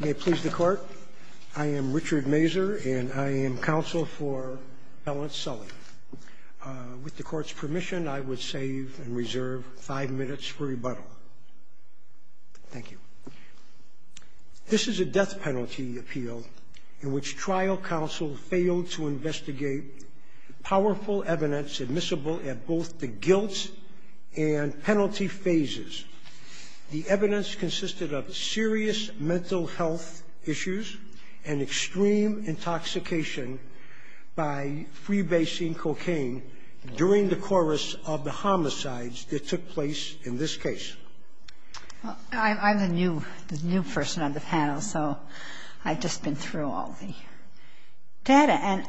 May it please the Court, I am Richard Mazur, and I am counsel for Alan Sully. With the Court's permission, I would save and reserve five minutes for rebuttal. Thank you. This is a death penalty appeal in which trial counsel failed to investigate powerful evidence admissible at both the guilt and penalty phases. The evidence consisted of serious mental health issues and extreme intoxication by freebasing cocaine during the chorus of the homicides that took place in this case. I'm a new person on the panel, so I've just been through all the data, and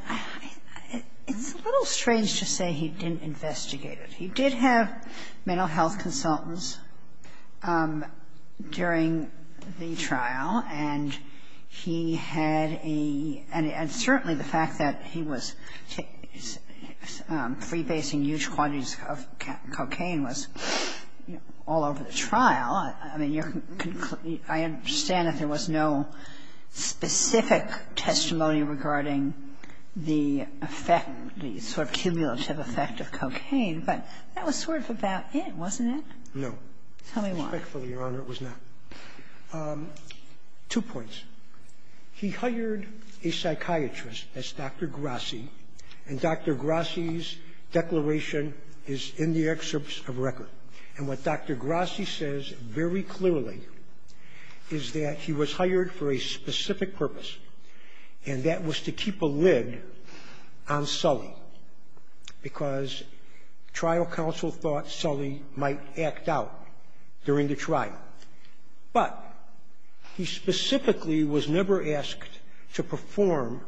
it's a little strange to say he didn't investigate it. He did have mental health consultants during the trial, and he had a, and certainly the fact that he was freebasing huge quantities of cocaine was all over the trial. I understand that there was no specific testimony regarding the effect, the sort of cumulative effect of cocaine, but that was sort of about it, wasn't it? No. Tell me more. Quickly, Your Honor, it was not. Two points. He hired a psychiatrist as Dr. Grassi, and Dr. Grassi's declaration is in the excerpts of the record. And what Dr. Grassi says very clearly is that he was hired for a specific purpose, and that was to keep a lid on Sully because trial counsel thought Sully might act out during the trial. But he specifically was never asked to perform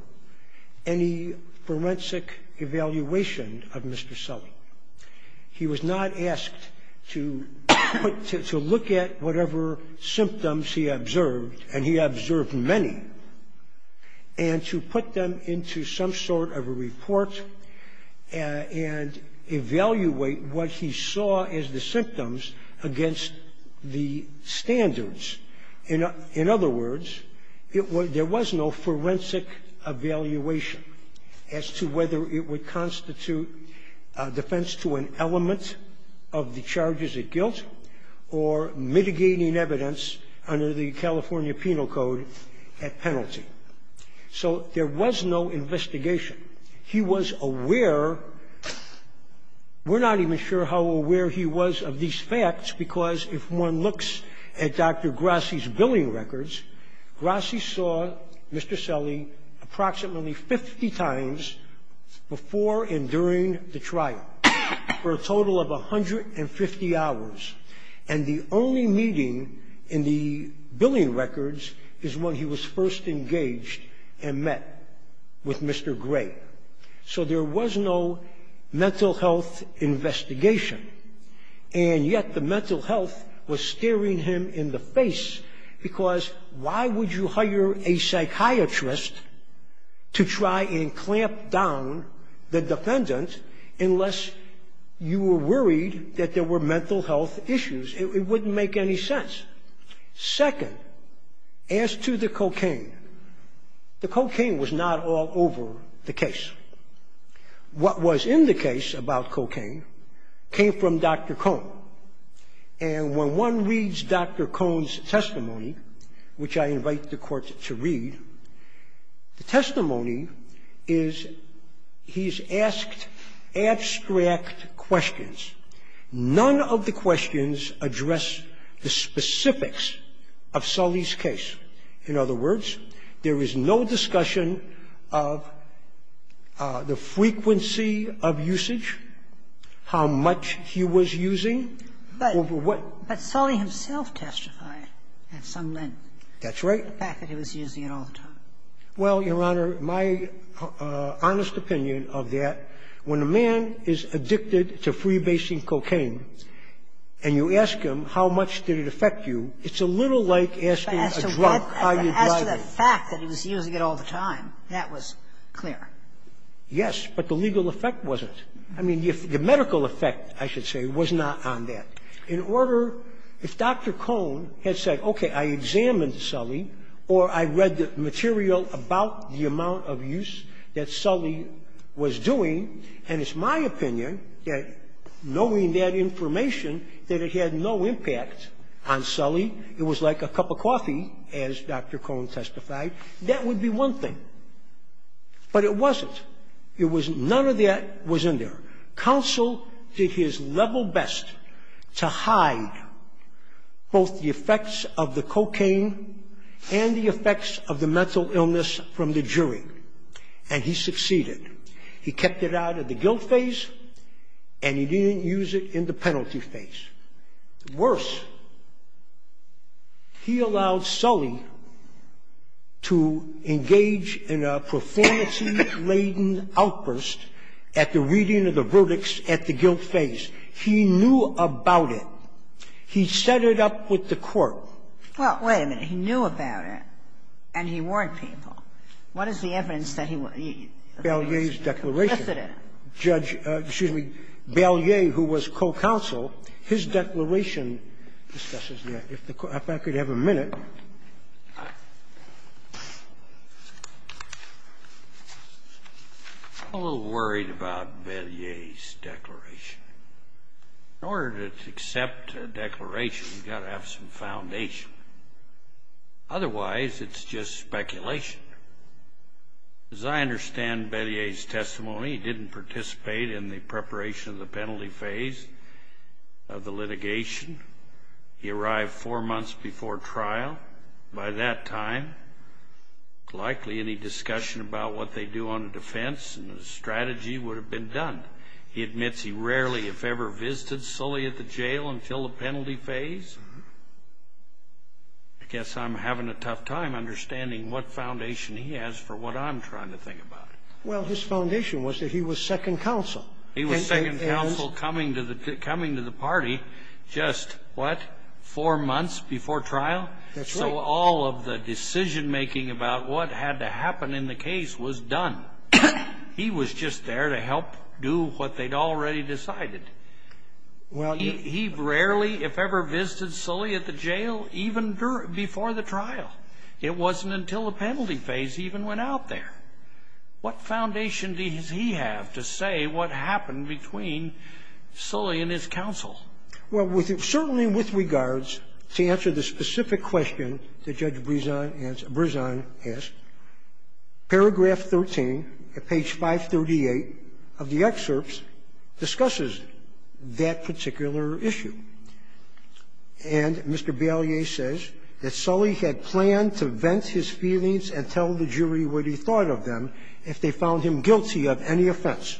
any forensic evaluation of Mr. Sully. He was not asked to look at whatever symptoms he observed, and he observed many, and to put them into some sort of a report and evaluate what he saw as the symptoms against the standards. In other words, there was no forensic evaluation as to whether it would constitute defense to an element of the charges of guilt or mitigating evidence under the California Penal Code at penalty. So there was no investigation. We're not even sure how aware he was of these facts, because if one looks at Dr. Grassi's billing records, Grassi saw Mr. Sully approximately 50 times before and during the trial for a total of 150 hours. And the only meeting in the billing records is when he was first engaged and met with Mr. Gray. So there was no mental health investigation, and yet the mental health was staring him in the face, because why would you hire a psychiatrist to try and clamp down the defendant unless you were worried that there were mental health issues? It wouldn't make any sense. Second, as to the cocaine, the cocaine was not all over the case. What was in the case about cocaine came from Dr. Cohn, and when one reads Dr. Cohn's testimony, which I invite the court to read, the testimony is he's asked abstract questions. None of the questions address the specifics of Sully's case. In other words, there is no discussion of the frequency of usage, how much he was using. But Sully himself testified at some length. That's right. The fact that he was using it all the time. Well, Your Honor, my honest opinion of that, when a man is addicted to freebasing cocaine and you ask him how much did it affect you, it's a little like asking a drunk how you're driving. As to the fact that he was using it all the time, that was clear. Yes, but the legal effect wasn't. I mean, the medical effect, I should say, was not on that. In order, if Dr. Cohn had said, okay, I examined Sully, or I read the material about the amount of use that Sully was doing, and it's my opinion that knowing that information that it had no impact on Sully, it was like a cup of coffee, as Dr. Cohn testified, that would be one thing. But it wasn't. None of that was in there. Counsel did his level best to hide both the effects of the cocaine and the effects of the mental illness from the jury, and he succeeded. He kept it out of the guilt phase, and he didn't use it in the penalty phase. Worse, he allowed Sully to engage in a performance-laden outburst at the reading of the verdicts at the guilt phase. He knew about it. He set it up with the court. Well, wait a minute. He knew about it, and he warned people. What is the evidence that he... Yes, it is. Judge Belier, who was co-counsel, his declaration discusses that. If I could have a minute. I'm a little worried about Belier's declaration. In order to accept a declaration, you've got to have some foundation. Otherwise, it's just speculation. As I understand Belier's testimony, he didn't participate in the preparation of the penalty phase of the litigation. He arrived four months before trial. By that time, likely any discussion about what they do on the defense and the strategy would have been done. He admits he rarely, if ever, visited Sully at the jail until the penalty phase. I guess I'm having a tough time understanding what foundation he has for what I'm trying to think about. Well, his foundation was that he was second counsel. He was second counsel coming to the party just, what, four months before trial? That's right. So all of the decision-making about what had to happen in the case was done. He was just there to help do what they'd already decided. He rarely, if ever, visited Sully at the jail, even before the trial. It wasn't until the penalty phase he even went out there. What foundation does he have to say what happened between Sully and his counsel? Well, certainly with regards to answer the specific question that Judge Brisson asked, paragraph 13 at page 538 of the excerpts discusses that particular issue. And Mr. Bailie says that Sully had planned to vent his feelings and tell the jury what he thought of them if they found him guilty of any offense.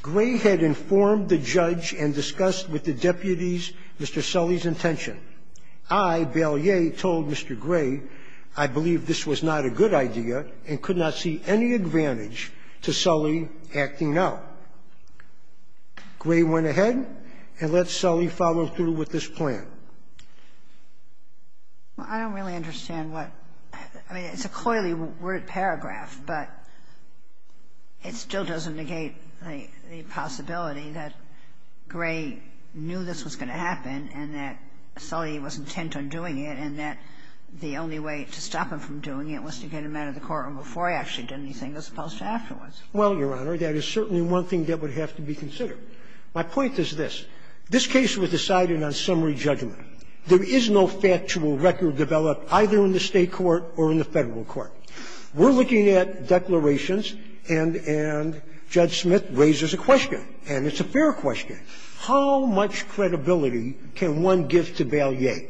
Gray had informed the judge and discussed with the deputies Mr. Sully's intention. I, Bailie, told Mr. Gray I believed this was not a good idea and could not see any advantage to Sully acting out. Gray went ahead and let Sully follow through with his plan. I don't really understand what – I mean, it's a coyly word paragraph, but it still doesn't negate the possibility that Gray knew this was going to happen and that Sully was intent on doing it and that the only way to stop him from doing it was to get him out of the courtroom before he actually did anything that was supposed to happen. Well, Your Honor, that is certainly one thing that would have to be considered. My point is this. This case was decided on summary judgment. There is no factual record developed either in the state court or in the federal court. We're looking at declarations, and Judge Smith raises a question, and it's a fair question. How much credibility can one give to Bailie?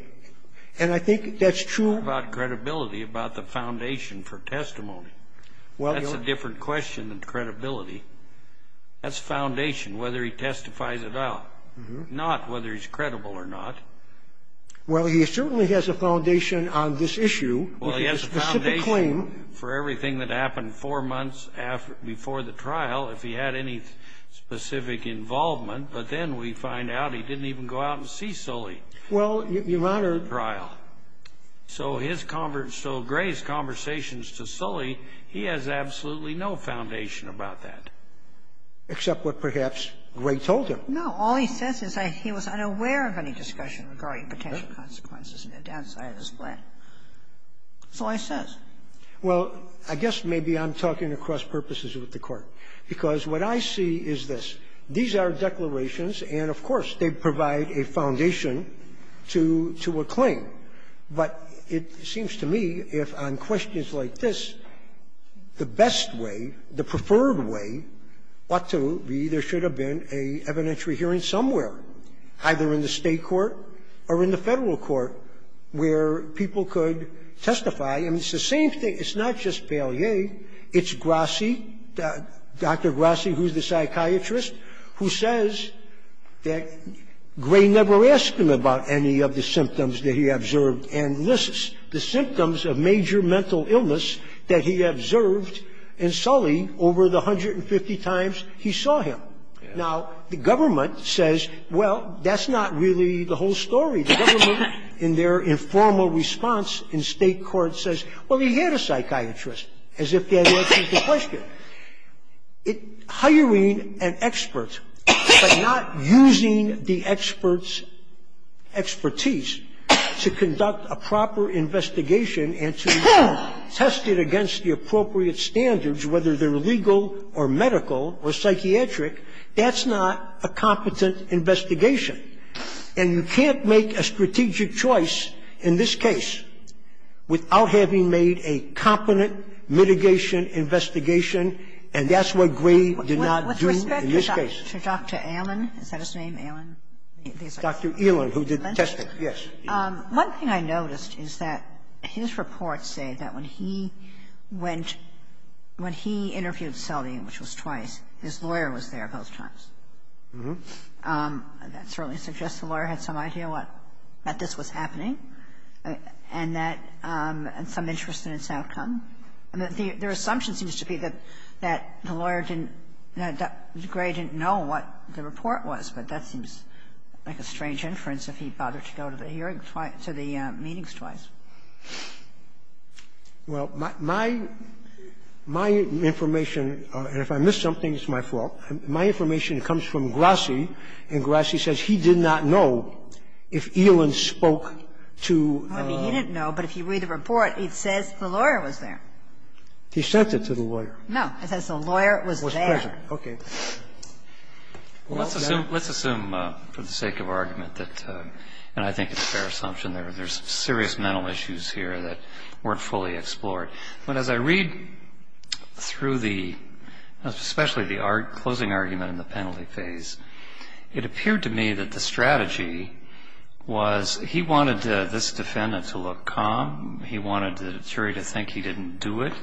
And I think that's true about credibility, about the foundation for testimony. That's a different question than credibility. That's foundation, whether he testifies at all, not whether he's credible or not. Well, he certainly has a foundation on this issue. Well, he has a foundation for everything that happened four months before the trial, if he had any specific involvement, but then we find out he didn't even go out and see Sully. Well, Your Honor. So Gray's conversations to Sully, he has absolutely no foundation about that. Except what perhaps Gray told him. No, all he says is that he was unaware of any discussion regarding potential consequences and the downside of this claim. That's all he says. Well, I guess maybe I'm talking across purposes with the Court. Because what I see is this. These are declarations, and, of course, they provide a foundation to a claim. But it seems to me, if on questions like this, the best way, the preferred way ought to be there should have been an evidentiary hearing somewhere, either in the state court or in the federal court, where people could testify. And it's the same thing. It's not just Bailier. It's Grassi, Dr. Grassi, who's the psychiatrist, who says that Gray never asked him about any of the symptoms that he observed and lists the symptoms of major mental illness that he observed in Sully over the 150 times he saw him. Now, the government says, well, that's not really the whole story. The government, in their informal response in state court, says, well, he had a psychiatrist, as if that answers the question. Hiring an expert but not using the expert's expertise to conduct a proper investigation and to test it against the appropriate standards, whether they're legal or medical or psychiatric, that's not a competent investigation. And you can't make a strategic choice in this case without having made a competent mitigation investigation, and that's what Gray did not do in this case. With respect to Dr. Allen, is that his name, Allen? Dr. Ehlen, who did the testing, yes. One thing I noticed is that his reports say that when he went, when he interviewed Sully, which was twice, his lawyer was there both times. That certainly suggests the lawyer had some idea that this was happening and some interest in his outcome. And their assumption seems to be that the lawyer didn't, that Gray didn't know what the report was, but that seems like a strange inference if he bothered to go to the hearings twice, to the meetings twice. Well, my information, and if I missed something, it's my fault. My information comes from Grassi, and Grassi says he did not know if Ehlen spoke to. I mean, he didn't know, but if you read the report, it says the lawyer was there. He sent it to the lawyer. No, it says the lawyer was there. Was present. Okay. Well, let's assume for the sake of argument that, and I think it's a fair assumption, there's serious mental issues here that weren't fully explored. But as I read through the, especially the closing argument in the penalty phase, it appeared to me that the strategy was he wanted this defendant to look calm. He wanted the jury to think he didn't do it,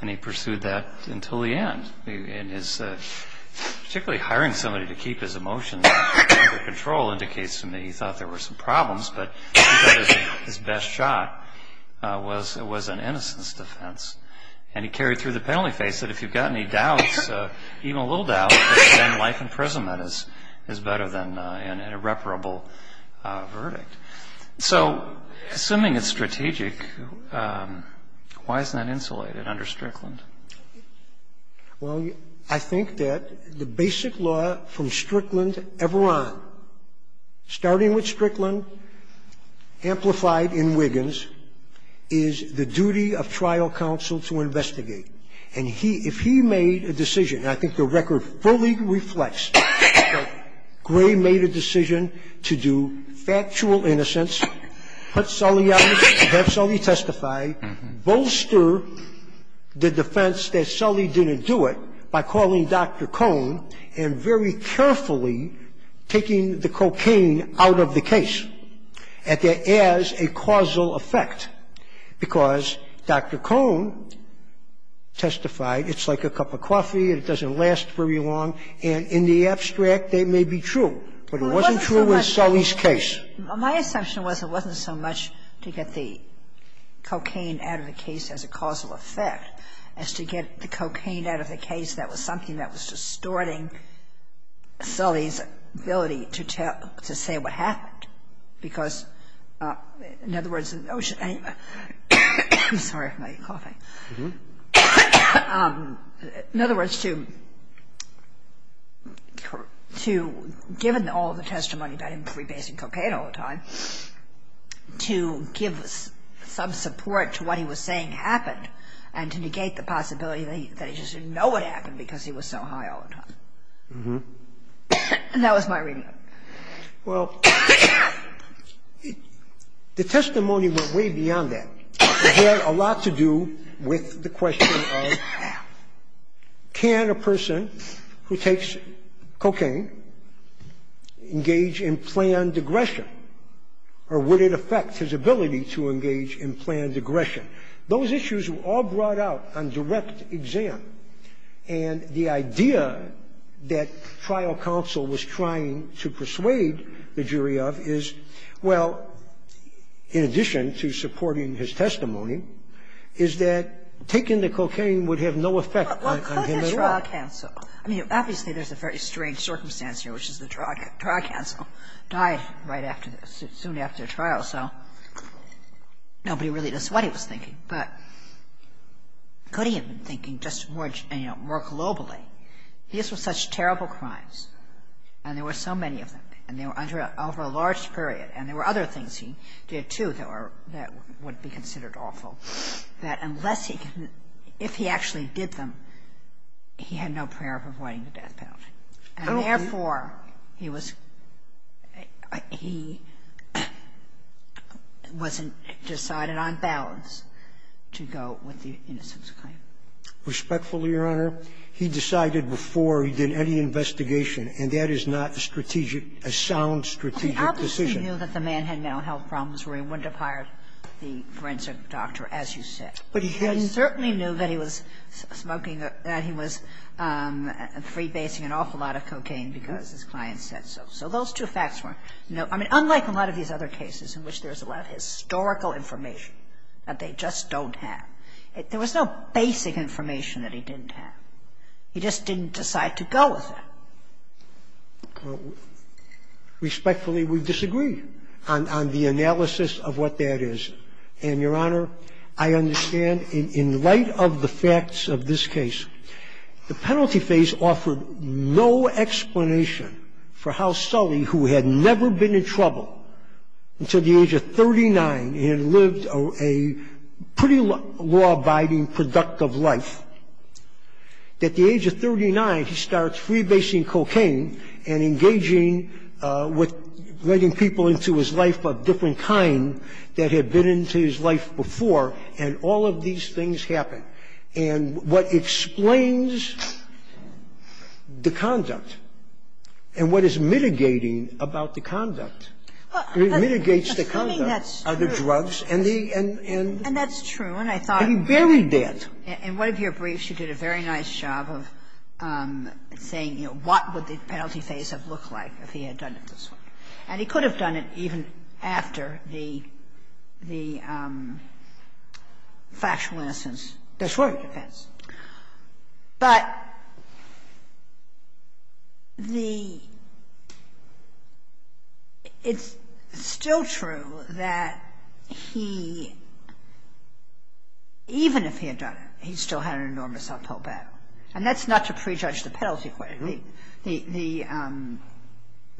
and he pursued that until the end. Particularly hiring somebody to keep his emotions under control indicates to me he thought there were some problems, but his best shot was an innocence defense. And he carried through the penalty phase, and if you've got any doubt, even a little doubt, then life in prison is better than an irreparable verdict. So, assuming it's strategic, why isn't that insulated under Strickland? Well, I think that the basic law from Strickland ever on, starting with Strickland, amplified in Wiggins, is the duty of trial counsel to investigate. And if he made a decision, and I think the record fully reflects that Gray made a decision to do factual innocence, put Sully out, have Sully testify, bolster the defense that Sully didn't do it by calling Dr. Cohn and very carefully taking the cocaine out of the case as a causal effect. Because Dr. Cohn testified, it's like a cup of coffee, it doesn't last very long, and in the abstract that may be true, but it wasn't true in Sully's case. My assumption was it wasn't so much to get the cocaine out of the case as a causal effect as to get the cocaine out of the case that was something that was distorting Sully's ability to say what happened. Because, in other words... In other words, to, given all the testimony about him rebasing cocaine all the time, to give some support to what he was saying happened, and to negate the possibility that he just didn't know what happened because he was so high all the time. That was my reasoning. Well, the testimony went way beyond that. It had a lot to do with the question of, can a person who takes cocaine engage in planned aggression, or would it affect his ability to engage in planned aggression? Those issues were all brought out on direct exam, and the idea that trial counsel was trying to persuade the jury of is, well, in addition to supporting his testimony, is that taking the cocaine would have no effect on him at all. Obviously, there's a very strange circumstance here, which is the trial counsel dies soon after trial, so nobody really knows what he was thinking, but could he have been thinking just more globally? These were such terrible crimes, and there were so many of them, and they were over a large period, and there were other things he did too that would be considered awful, that unless he, if he actually did them, he had no prayer of avoiding the death penalty. And therefore, he was, he was decided on balance to go with the innocence claim. Respectfully, Your Honor, he decided before he did any investigation, and that is not a sound strategic decision. Obviously, he knew that the man had mental health problems, where he wouldn't have hired the forensic doctor, as you said. But he certainly knew that he was smoking, that he was freebasing an awful lot of cocaine because his client said so. So those two facts were, I mean, unlike a lot of these other cases in which there's a lot of historical information that they just don't have, there was no basic information that he didn't have. He just didn't decide to go with it. Respectfully, we disagree on the analysis of what that is. And, Your Honor, I understand in light of the facts of this case, the penalty phase offered no explanation for how Sully, who had never been in trouble until the age of 39, and lived a pretty law-abiding, productive life, at the age of 39, he starts freebasing cocaine and engaging with letting people into his life of different kind that had been into his life before, and all of these things happen. And what explains the conduct, and what is mitigating about the conduct, mitigates the conduct of the drugs, and he buried that. In one of your briefs, you did a very nice job of saying, you know, what would the penalty phase have looked like if he had done it this way. And he could have done it even after the factual innocence, before the defense. But the, it's still true that he, even if he had done it, he still had an enormous uphill battle. And that's not to prejudge the penalty question, the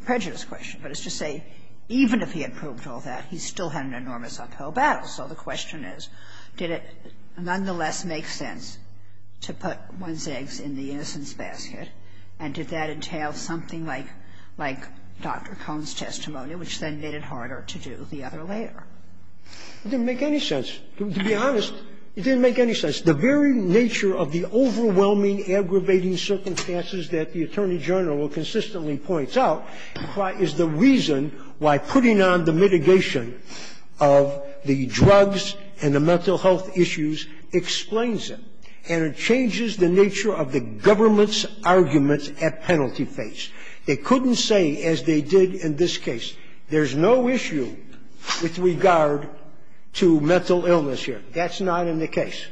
prejudice question, but it's to say, even if he had proved all that, he still had an enormous uphill battle. So the question is, did it nonetheless make sense to put one's eggs in the innocent's basket, and did that entail something like Dr. Cohn's testimony, which then made it harder to do the other later? It didn't make any sense. To be honest, it didn't make any sense. The very nature of the overwhelming, aggravating circumstances that the attorney general consistently points out, is the reason why putting on the mitigation of the drugs and the mental health issues explains it. And it changes the nature of the government's argument at penalty phase. It couldn't say, as they did in this case, there's no issue with regard to mental illness here. That's not in the case.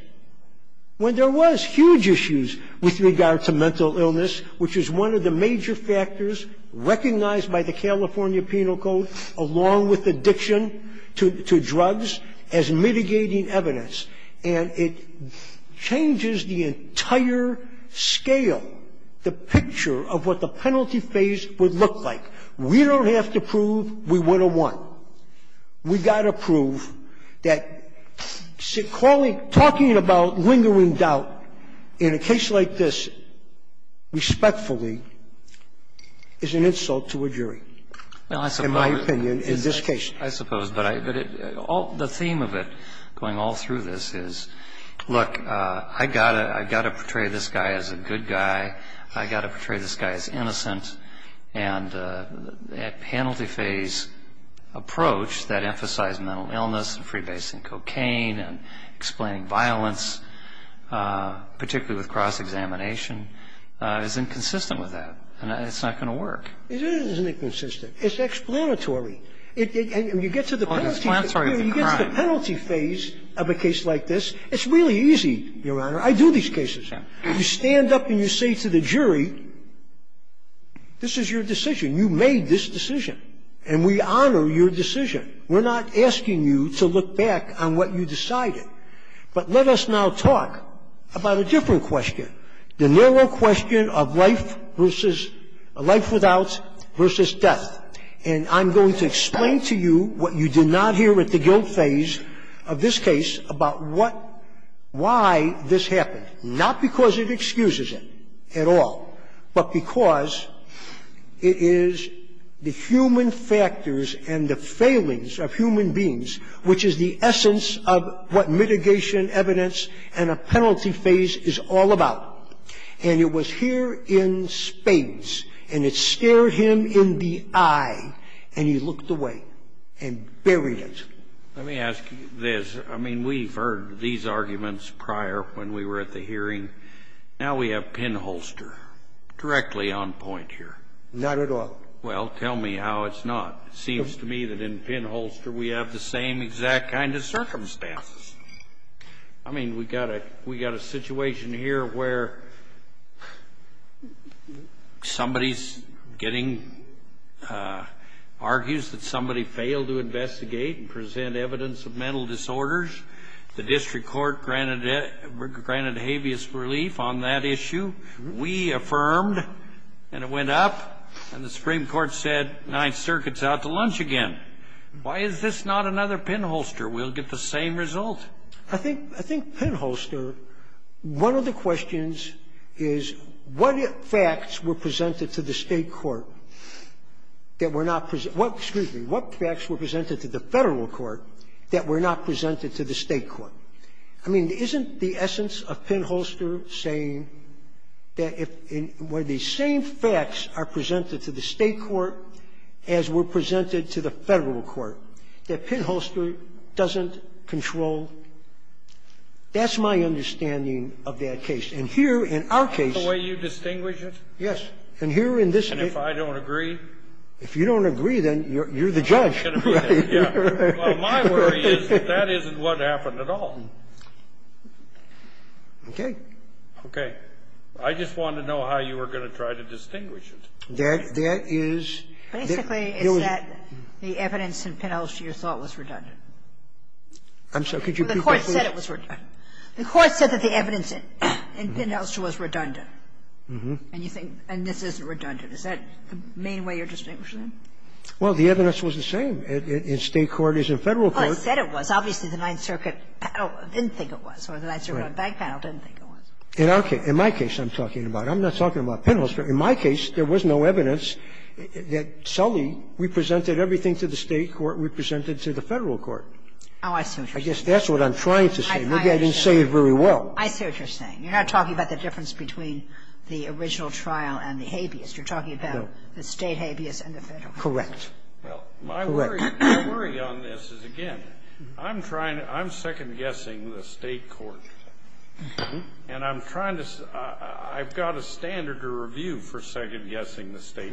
When there was huge issues with regard to mental illness, which is one of the major factors recognized by the California Penal Code, along with addiction to drugs, as mitigating evidence. And it changes the entire scale, the picture of what the penalty phase would look like. We don't have to prove we would have won. We've got to prove that talking about lingering doubt in a case like this, respectfully, is an insult to a jury, in my opinion, in this case. I suppose. But the theme of it, going all through this, is, look, I've got to portray this guy as a good guy. And that penalty phase approach that emphasized mental illness, freebasing cocaine, and explaining violence, particularly with cross-examination, is inconsistent with that. And it's not going to work. It is inconsistent. It's explanatory. When you get to the penalty phase of a case like this, it's really easy, Your Honor. I do these cases. You stand up and you say to the jury, this is your decision. You made this decision. And we honor your decision. We're not asking you to look back on what you decided. But let us now talk about a different question, the narrow question of life without versus death. And I'm going to explain to you what you did not hear with the guilt phase of this case, about why this happened, not because it excuses it at all, but because it is the human factors and the failings of human beings, which is the essence of what mitigation, evidence, and a penalty phase is all about. And it was here in spades. And it stared him in the eye. And he looked away and buried it. Let me ask you this. I mean, we've heard these arguments prior when we were at the hearing. Now we have pinholster directly on point here. Not at all. Well, tell me how it's not. It seems to me that in pinholster we have the same exact kind of circumstances. I mean, we've got a situation here where somebody's getting argues that somebody failed to investigate and present evidence of mental disorders. The district court granted habeas relief on that issue. We affirmed. And it went up. And the Supreme Court said Ninth Circuit's out to lunch again. Why is this not another pinholster? We'll get the same result. I think pinholster, one of the questions is what facts were presented to the federal court that were not presented to the state court? I mean, isn't the essence of pinholster saying that when the same facts are presented to the state court as were presented to the federal court, that pinholster doesn't control? That's my understanding of that case. And here in our case. Is that the way you distinguish it? Yes. And here in this case. And if I don't agree? If you don't agree, then you're the judge. Well, my worry is that that isn't what happened at all. Okay. Okay. I just wanted to know how you were going to try to distinguish it. There is. Basically, it's that the evidence in pinholster you thought was redundant. I'm sorry. Could you repeat that, please? The court said it was redundant. The court said that the evidence in pinholster was redundant. And you think, and this isn't redundant. Is that the main way you're distinguishing it? Well, the evidence was the same in state court as in federal court. Well, it said it was. Obviously, the Ninth Circuit didn't think it was. Or the Ninth Circuit back panel didn't think it was. In our case. In my case, I'm talking about. I'm not talking about pinholster. In my case, there was no evidence that solely represented everything to the state court represented to the federal court. Oh, I see what you're saying. I guess that's what I'm trying to say. Maybe I didn't say it very well. I see what you're saying. You're not talking about the difference between the original trial and the habeas. You're talking about the state habeas and the federal. Correct. Correct. Well, my worry on this is, again, I'm trying to. I'm second-guessing the state court. And I'm trying to. I've got a standard to review for second-guessing the state.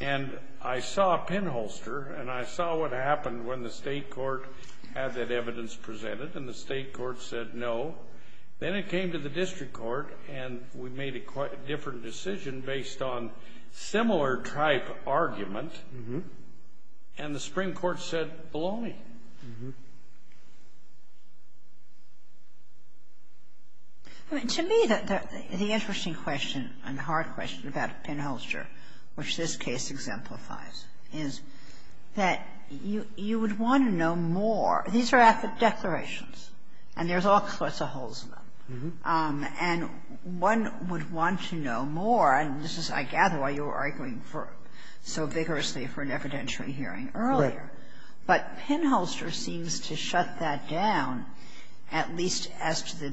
And I saw a pinholster. And I saw what happened when the state court had that evidence presented. And the state court said no. Then it came to the district court. And we made a quite different decision based on similar-type argument. And the Supreme Court said belonging. To me, the interesting question and hard question about pinholster, which this case exemplifies, is that you would want to know more. These are affidavit declarations. And there's all sorts of holes in them. And one would want to know more. And this is, I gather, why you were arguing so vigorously for an evidentiary hearing earlier. But pinholster seems to shut that down, at least as to the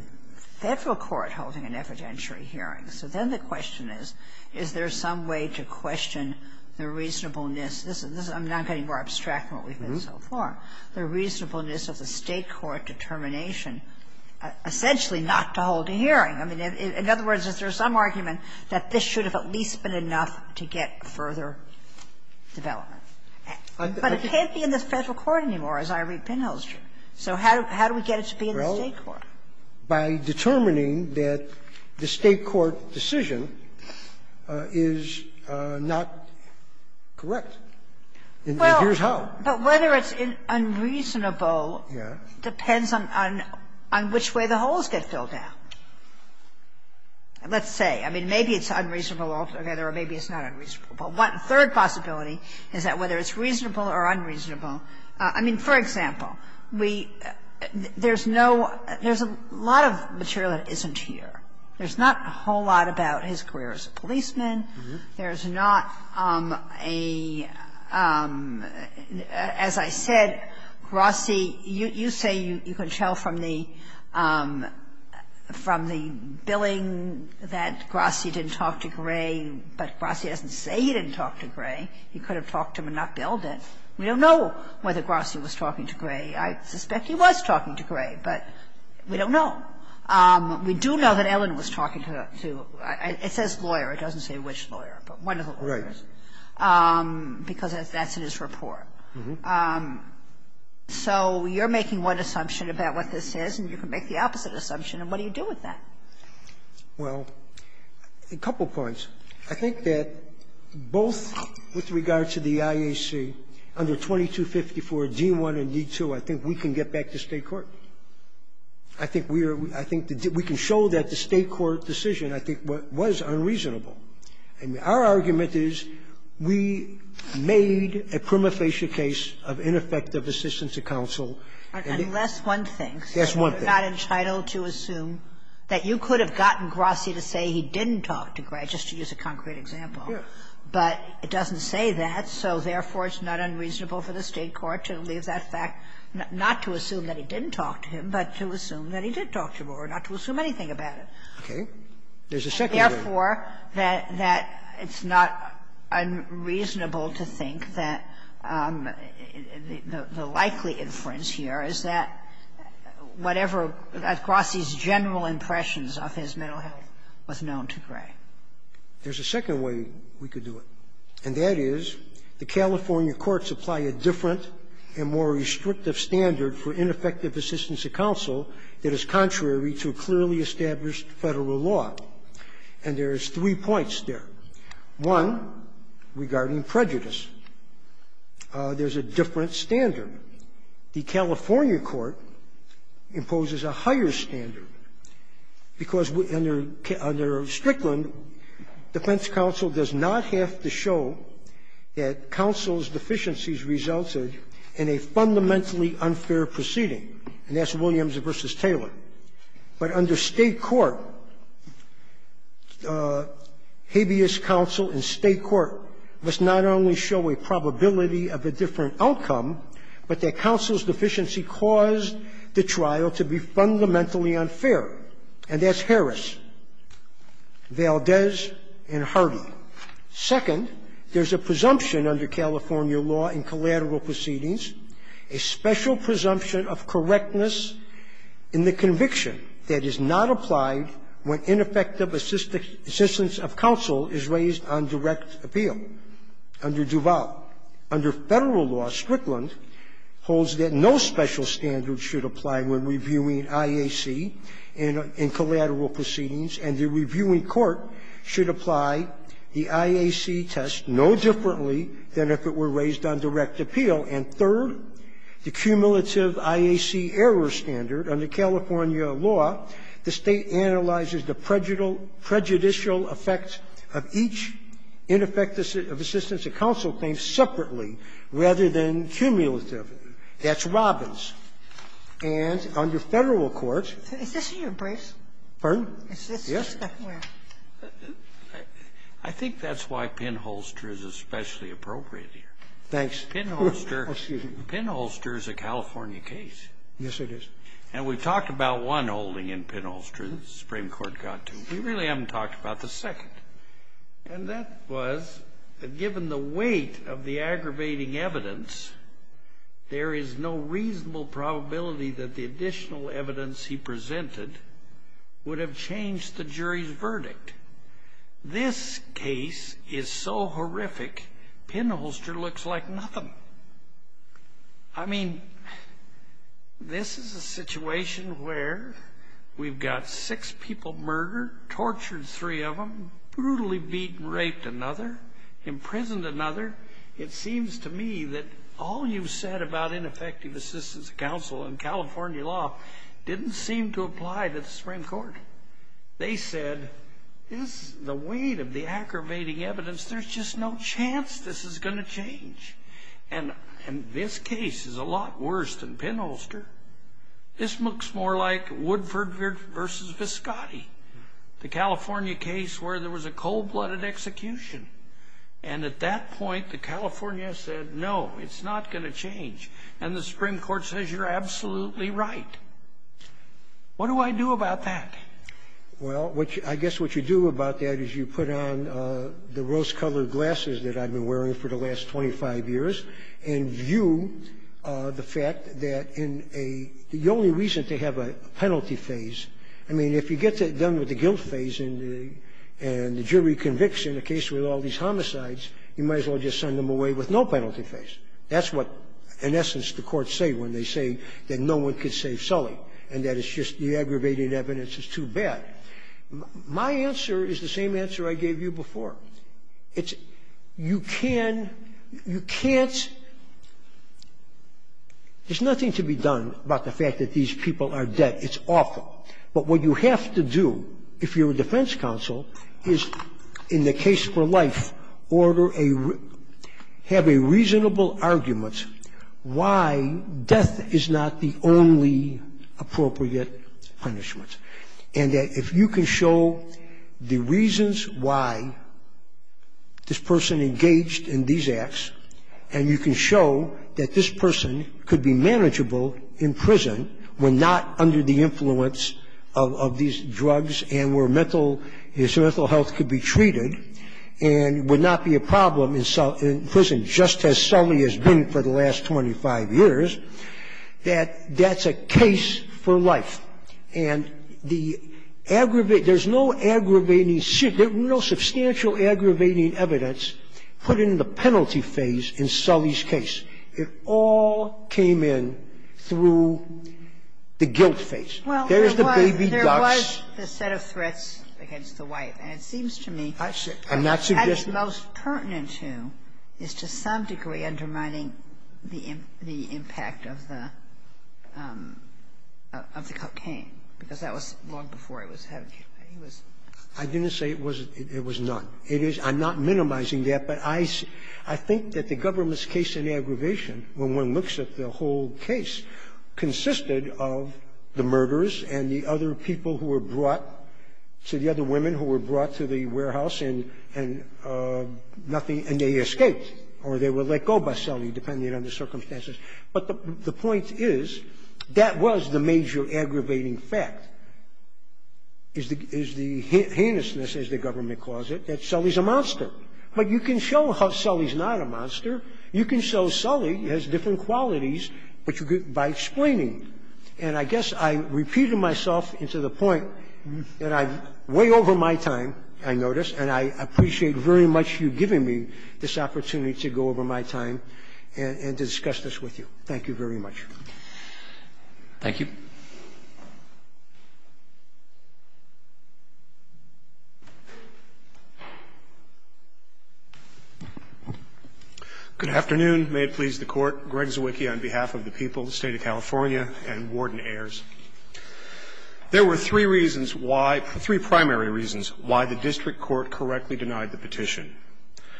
federal court holding an evidentiary hearing. So then the question is, is there some way to question the reasonableness? I'm not getting more abstract than what we've done so far. The reasonableness of the state court determination, essentially not to hold a hearing. In other words, is there some argument that this should have at least been enough to get further development? But it can't be in the federal court anymore, as I read pinholster. So how do we get it to be in the state court? Well, by determining that the state court decision is not correct. And here's how. But whether it's unreasonable depends on which way the holes get filled out. Let's say. I mean, maybe it's unreasonable altogether, or maybe it's not unreasonable. But one third possibility is that whether it's reasonable or unreasonable. I mean, for example, there's a lot of material that isn't here. There's not a whole lot about his career as a policeman. There's not a, as I said, Grossi. You say you can tell from the billing that Grossi didn't talk to Gray, but Grossi doesn't say he didn't talk to Gray. He could have talked to him and not billed it. We don't know whether Grossi was talking to Gray. I suspect he was talking to Gray, but we don't know. We do know that Ellen was talking to, it says lawyer. It doesn't say which lawyer, but one of the lawyers, because that's in his report. So you're making one assumption about what this is, and you can make the opposite assumption, and what do you do with that? Well, a couple points. I think that both with regard to the IAC, under 2254 D1 and D2, I think we can get back to state court. I think we can show that the state court decision, I think, was unreasonable. And our argument is we made a prima facie case of ineffective assistance to counsel. Unless one thinks. Yes, one thinks. I'm not entitled to assume that you could have gotten Grossi to say he didn't talk to Gray, just to use a concrete example. Yes. But it doesn't say that, so therefore it's not unreasonable for the state court to leave that fact, not to assume that he didn't talk to him, but to assume that he did talk to him, or not to assume anything about it. Okay. There's a second argument. I think, therefore, that it's not unreasonable to think that the likely inference here is that whatever Grossi's general impressions of his mental health was known to Gray. There's a second way we could do it, and that is the California courts apply a different and more restrictive standard for ineffective assistance to counsel that is contrary to clearly established federal law. And there's three points there. One, regarding prejudice. There's a different standard. The California court imposes a higher standard, because under Strickland, defense counsel does not have to show that counsel's deficiencies resulted in a fundamentally unfair proceeding. And that's Williams v. Taylor. But under state court, habeas counsel in state court must not only show a probability of a different outcome, but that counsel's deficiency caused the trial to be fundamentally unfair. And that's Harris, Valdez, and Hardy. Second, there's a presumption under California law in collateral proceedings, a special presumption of correctness in the conviction that is not applied when ineffective assistance of counsel is raised on direct appeal under Duval. Under federal law, Strickland holds that no special standard should apply when reviewing IAC in collateral proceedings, and the reviewing court should apply the IAC test no differently than if it were raised on direct appeal. And third, the cumulative IAC error standard. Under California law, the state analyzes the prejudicial effects of each ineffective assistance of counsel case separately rather than cumulatively. That's Robbins. And under federal court — Is this your brief? Pardon? Yes. I think that's why pinholster is especially appropriate here. Thanks. Excuse me. Pinholster is a California case. Yes, it is. And we talked about one holding in pinholster that the Supreme Court got to. We really haven't talked about the second. And that was that given the weight of the aggravating evidence, there is no reasonable probability that the additional evidence he presented would have changed the jury's verdict. This case is so horrific, pinholster looks like nothing. I mean, this is a situation where we've got six people murdered, tortured three of them, brutally beaten and raped another, imprisoned another. It seems to me that all you said about ineffective assistance of counsel in California law didn't seem to apply to the Supreme Court. They said, the weight of the aggravating evidence, there's just no chance this is going to change. And this case is a lot worse than pinholster. This looks more like Woodford versus Viscotti, the California case where there was a cold-blooded execution. And at that point, the California said, no, it's not going to change. And the Supreme Court says, you're absolutely right. What do I do about that? Well, I guess what you do about that is you put on the rose-colored glasses that I've been wearing for the last 25 years and view the fact that the only reason to have a penalty phase, I mean, if you get that done with the guilt phase and the jury convicts in a case with all these homicides, you might as well just send them away with no penalty phase. That's what, in essence, the courts say when they say that no one can save Sully and that it's just the aggravating evidence is too bad. My answer is the same answer I gave you before. You can't – there's nothing to be done about the fact that these people are dead. It's awful. But what you have to do, if you're a defense counsel, is in the case for life, order a – have a reasonable argument why death is not the only appropriate punishment. And that if you can show the reasons why this person engaged in these acts and you can show that this person could be manageable in prison when not under the influence of these drugs and where mental – his mental health could be treated and would not be a problem in prison just as Sully has been for the last 25 years, that that's a case for life. And the – there's no aggravating – there's no substantial aggravating evidence put in the penalty phase in Sully's case. It all came in through the guilt phase. There's the baby ducks. Well, there was the set of threats against the wife. And it seems to me that's most pertinent to is to some degree undermining the impact of the cocaine because that was long before it was – I didn't say it was – it was not. It is – I'm not minimizing that, but I think that the government's case in aggravation, when one looks at the whole case, consisted of the murderers and the other people who were brought – to the other women who were brought to the warehouse and nothing – and they escaped or they were let go by Sully, depending on the circumstances. But the point is that was the major aggravating fact, is the heinousness, as the government calls it. That Sully's a monster. But you can show how Sully's not a monster. You can show Sully has different qualities by explaining. And I guess I'm repeating myself to the point that I'm way over my time, I notice, and I appreciate very much you giving me this opportunity to go over my time and to discuss this with you. Thank you very much. Thank you. Good afternoon. May it please the Court. Greg Zewiecki on behalf of the people, State of California, and Warden Ayers. There were three reasons why – three primary reasons – why the district court correctly denied the petition.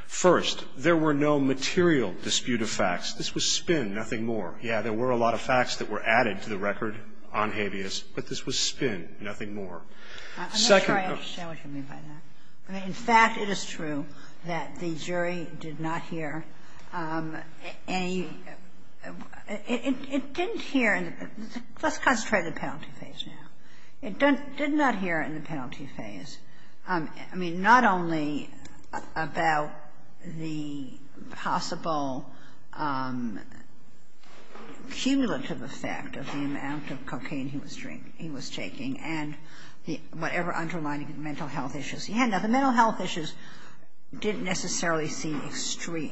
First, there were no material dispute of facts. This was spin, nothing more. Yeah, there were a lot of facts that were added to the record on habeas, but this was spin, nothing more. I'm not sure I understand what you mean by that. In fact, it is true that the jury did not hear any – it didn't hear – let's concentrate on the penalty phase now. It did not hear in the penalty phase. I mean, not only about the possible cumulative effect of the amount of cocaine he was taking and whatever underlying mental health issues he had. Now, the mental health issues didn't necessarily seem extreme,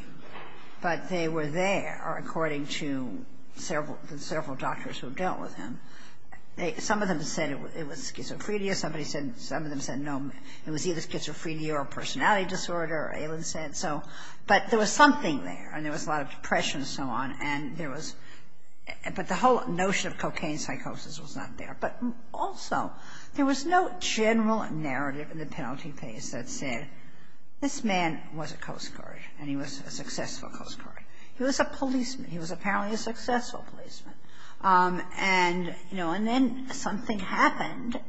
but they were there according to several doctors who dealt with him. Some of them said it was schizophrenia. Some of them said it was either schizophrenia or personality disorder. But there was something there, and there was a lot of depression and so on. But the whole notion of cocaine psychosis was not there. But also, there was no general narrative in the penalty phase that said, this man was a Coast Guard, and he was a successful Coast Guard. He was a policeman. He was apparently a successful policeman. And then something happened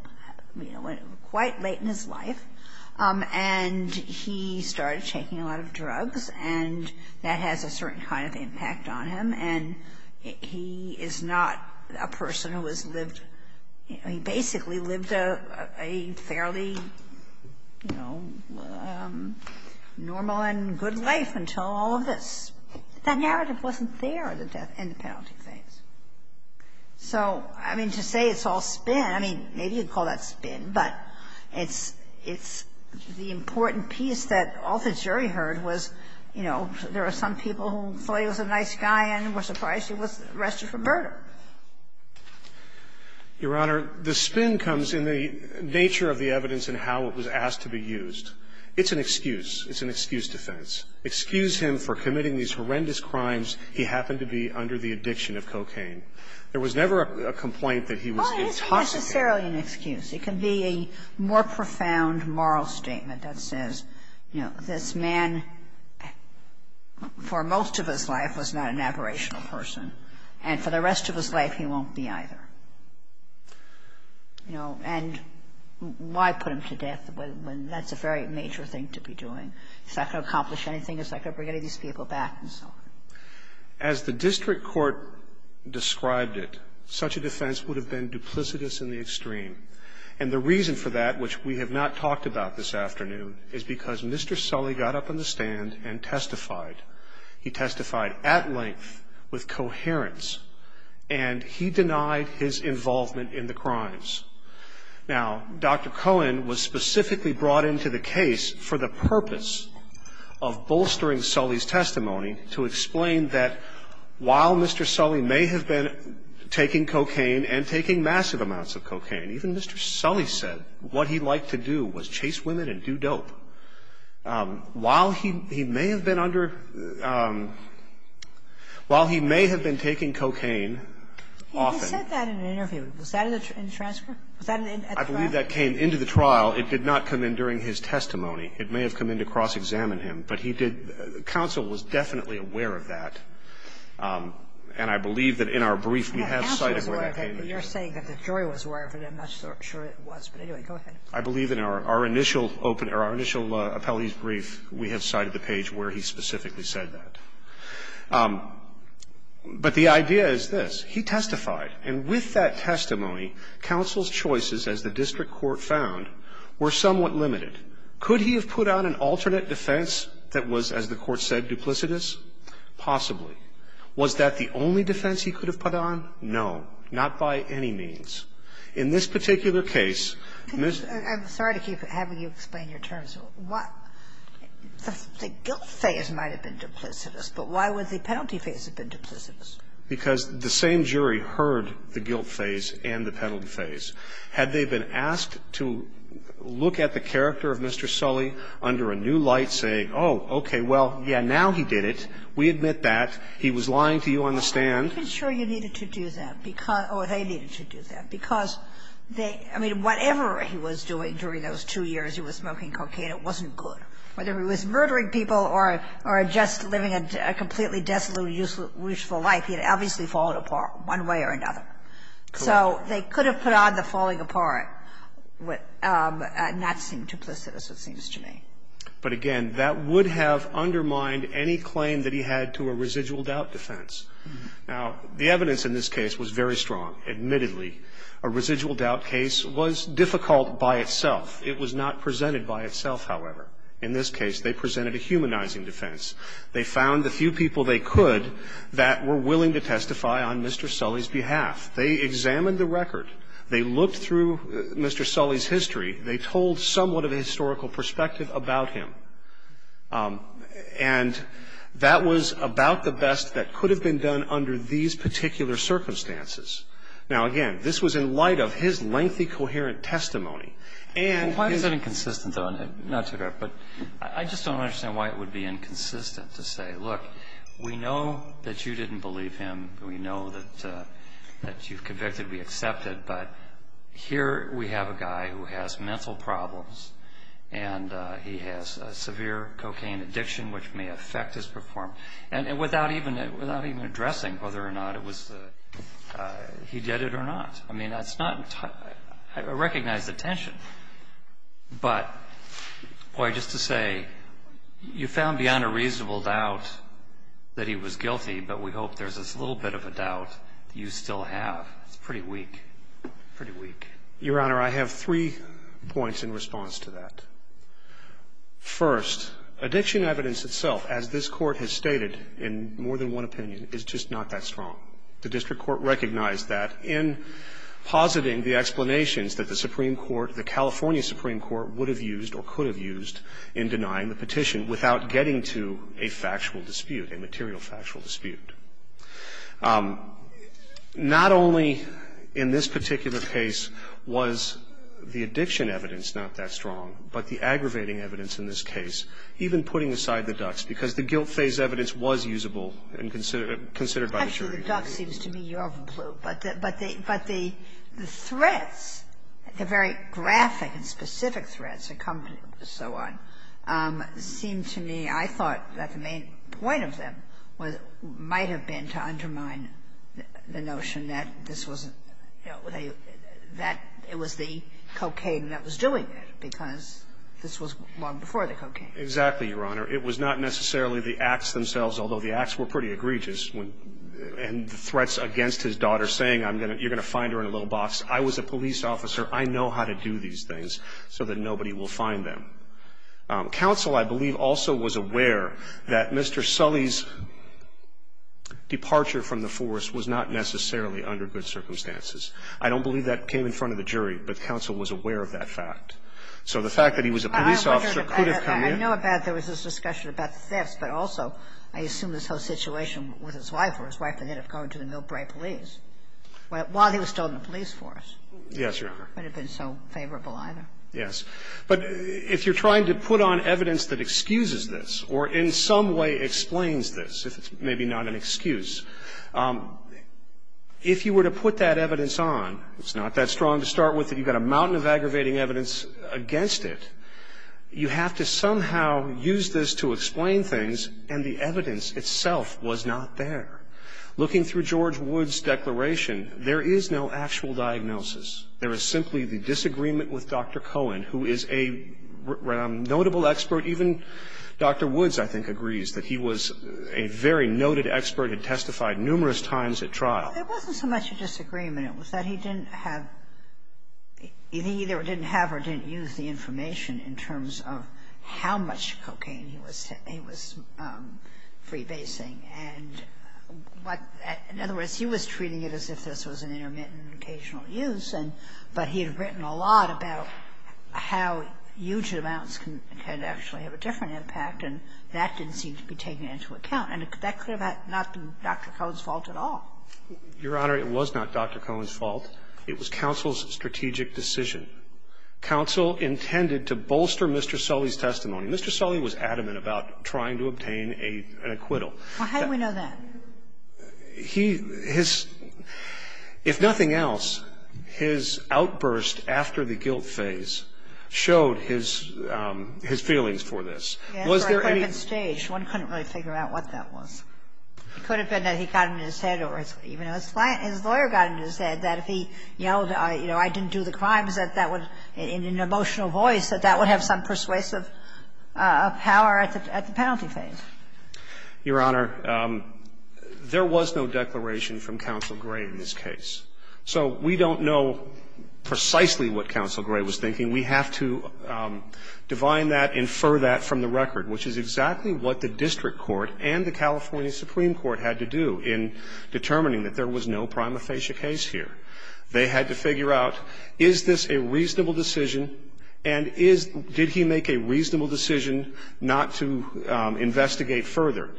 quite late in his life, and he started taking a lot of drugs, and that has a certain kind of impact on him. And he is not a person who has lived – he basically lived a fairly normal and good life until all of this. The narrative wasn't there in the penalty phase. So, I mean, to say it's all spin, I mean, maybe you'd call that spin, but it's the important piece that all the jury heard was, you know, there are some people who thought he was a nice guy and were surprised he was arrested for murder. Your Honor, the spin comes in the nature of the evidence and how it was asked to be used. It's an excuse. It's an excuse defense. Excuse him for committing these horrendous crimes. He happened to be under the addiction of cocaine. There was never a complaint that he was intoxicated. Well, it's fairly an excuse. It can be a more profound moral statement that says, you know, this man for most of his life was not an aberrational person, and for the rest of his life he won't be either. You know, and why put him to death when that's a very major thing to be doing? It's not going to accomplish anything. It's not going to bring any of these people back and so on. As the district court described it, such a defense would have been duplicitous in the extreme, and the reason for that, which we have not talked about this afternoon, is because Mr. Sully got up on the stand and testified. He testified at length with coherence, and he denied his involvement in the crimes. Now, Dr. Cohen was specifically brought into the case for the purpose of bolstering Sully's testimony to explain that while Mr. Sully may have been taking cocaine and taking massive amounts of cocaine, even Mr. Sully said what he liked to do was chase women and do dope. While he may have been under, while he may have been taking cocaine often. He said that in an interview. Was that in the transcript? I believe that came into the trial. It did not come in during his testimony. It may have come in to cross-examine him, but he did, counsel was definitely aware of that, and I believe that in our brief we have cited where that came from. Counsel was aware of it, but you're saying that the jury was aware of it. I'm not sure it was, but anyway, go ahead. I believe in our initial open, or our initial appellee's brief, we had cited the page where he specifically said that. But the idea is this. He testified, and with that testimony, counsel's choices, as the district court found, were somewhat limited. Could he have put on an alternate defense that was, as the court said, duplicitous? Possibly. Was that the only defense he could have put on? No. Not by any means. In this particular case, Ms. I'm sorry to keep having you explain your terms. The guilt phase might have been duplicitous, but why would the penalty phase have been duplicitous? Because the same jury heard the guilt phase and the penalty phase. Had they been asked to look at the character of Mr. Sully under a new light, saying, oh, okay, well, yeah, now he did it. We admit that. He was lying to you on the stand. I'm sure you needed to do that, or they needed to do that, because they, I mean, whatever he was doing during those two years he was smoking cocaine, it wasn't good. Whether he was murdering people or just living a completely deathly useful life, he had obviously fallen apart one way or another. So they could have put on the falling apart, not seeming duplicitous, it seems to me. But again, that would have undermined any claim that he had to a residual doubt defense. Now, the evidence in this case was very strong. Admittedly, a residual doubt case was difficult by itself. It was not presented by itself, however. In this case, they presented a humanizing defense. They found the few people they could that were willing to testify on Mr. Sully's behalf. They examined the record. They looked through Mr. Sully's history. They told somewhat of a historical perspective about him. And that was about the best that could have been done under these particular circumstances. Now, again, this was in light of his lengthy, coherent testimony. Why is that inconsistent though? I just don't understand why it would be inconsistent to say, look, we know that you didn't believe him. We know that you've convicted. We accept it. But here we have a guy who has mental problems and he has severe cocaine addiction, which may affect his performance. And without even addressing whether or not he did it or not. I mean, that's not a recognized attention. But, boy, just to say, you found beyond a reasonable doubt that he was guilty, but we hope there's this little bit of a doubt that you still have. It's pretty weak. Pretty weak. Your Honor, I have three points in response to that. First, addiction evidence itself, as this Court has stated in more than one opinion, is just not that strong. The District Court recognized that in positing the explanations that the Supreme Court, the California Supreme Court, would have used or could have used in denying the petition without getting to a factual dispute, a material factual dispute. Not only in this particular case was the addiction evidence not that strong, but the aggravating evidence in this case, even putting aside the ducts, because the guilt phase evidence was usable and considered by the jury. Actually, the ducts seems to me you're of a blue. But the threats, the very graphic and specific threats that come so on, seems to me I thought that the main point of them might have been to undermine the notion that it was the cocaine that was doing this because this was long before the cocaine. Exactly, Your Honor. It was not necessarily the acts themselves, although the acts were pretty egregious, and threats against his daughter saying you're going to find her in a little box. I was a police officer. I know how to do these things so that nobody will find them. Counsel, I believe, also was aware that Mr. Sully's departure from the force was not necessarily under good circumstances. I don't believe that came in front of the jury, but counsel was aware of that fact. So the fact that he was a police officer could have come in. I know that there was this discussion about this, but also I assume this whole situation with his wife where his wife ended up going to the Millbrae police while he was still in the police force. Yes, Your Honor. It wouldn't have been so favorable either. Yes. But if you're trying to put on evidence that excuses this or in some way explains this, if it's maybe not an excuse, if you were to put that evidence on, it's not that strong to start with, but you've got a mountain of aggravating evidence against it. You have to somehow use this to explain things, and the evidence itself was not there. Looking through George Wood's declaration, there is no actual diagnosis. There is simply the disagreement with Dr. Cohen, who is a notable expert. Even Dr. Woods, I think, agrees that he was a very noted expert and testified numerous times at trial. There wasn't so much a disagreement. It was that he either didn't have or didn't use the information in terms of how much cocaine he was freebasing. In other words, he was treating it as if this was an intermittent, occasional use, but he had written a lot about how huge amounts can actually have a different impact, and that didn't seem to be taken into account. And is that not Dr. Cohen's fault at all? Your Honor, it was not Dr. Cohen's fault. It was counsel's strategic decision. Counsel intended to bolster Mr. Sully's testimony. Mr. Sully was adamant about trying to obtain an acquittal. How do we know that? If nothing else, his outburst after the guilt phase showed his feelings for this. One couldn't really figure out what that was. It could have been that he found it in his head, or even his lawyer got it in his head, that if he yelled, you know, I didn't do the crime, that that was in an emotional voice, that that would have some persuasive power at the penalty phase. Your Honor, there was no declaration from Counsel Gray in this case. So we don't know precisely what Counsel Gray was thinking. And we have to define that, infer that from the record, which is exactly what the district court and the California Supreme Court had to do in determining that there was no prima facie case here. They had to figure out, is this a reasonable decision, and did he make a reasonable decision not to investigate further?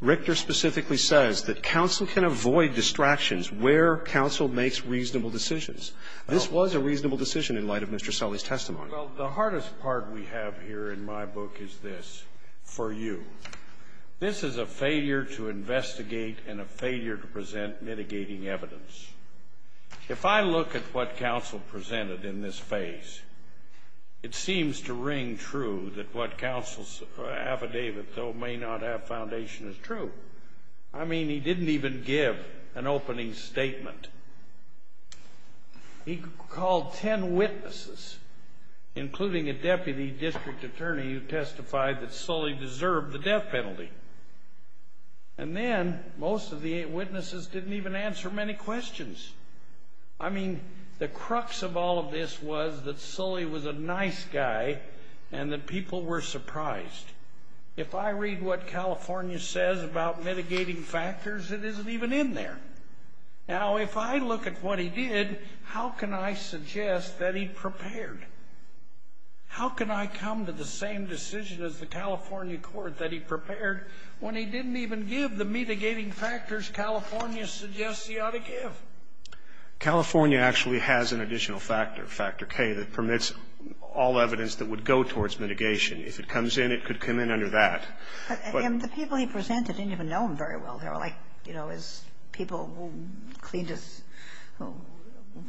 Richter specifically says that counsel can avoid distractions where counsel makes reasonable decisions. This was a reasonable decision in light of Mr. Sully's testimony. Well, the hardest part we have here in my book is this, for you. This is a failure to investigate and a failure to present mitigating evidence. If I look at what counsel presented in this phase, it seems to ring true that what counsel's affidavit may not have foundation is true. I mean, he didn't even give an opening statement. He called ten witnesses, including a deputy district attorney who testified that Sully deserved the death penalty. And then most of the witnesses didn't even answer many questions. I mean, the crux of all of this was that Sully was a nice guy and that people were surprised. If I read what California says about mitigating factors, it isn't even in there. Now, if I look at what he did, how can I suggest that he prepared? How can I come to the same decision as the California court that he prepared when he didn't even give the mitigating factors California suggests he ought to give? California actually has an additional factor, factor K, that permits all evidence that would go towards mitigation. If it comes in, it could come in under that. But the people he presented didn't even know him very well. They were like, you know, people who cleaned his, who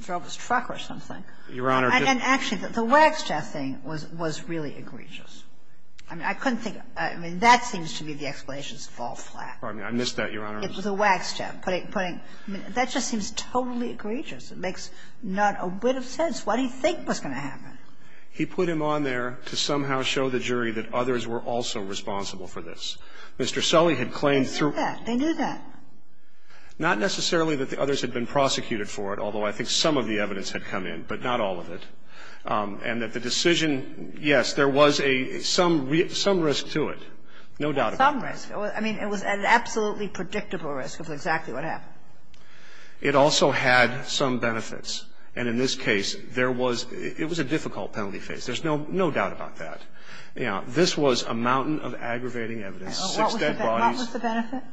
drove his truck or something. Your Honor. And actually, the wax tap thing was really egregious. I mean, I couldn't think, I mean, that thing should be the explanation to fall flat. Pardon me. I missed that, Your Honor. It was a wax tap. That just seems totally egregious. It makes not a bit of sense. What did he think was going to happen? He put him on there to somehow show the jury that others were also responsible for this. Mr. Sully had claimed through. They knew that. Not necessarily that the others had been prosecuted for it, although I think some of the evidence had come in, but not all of it. And that the decision, yes, there was some risk to it, no doubt about it. Some risk. I mean, it was an absolutely predictable risk of exactly what happened. It also had some benefits. And in this case, it was a difficult penalty case. There's no doubt about that. This was a mountain of aggravating evidence. What was the benefit?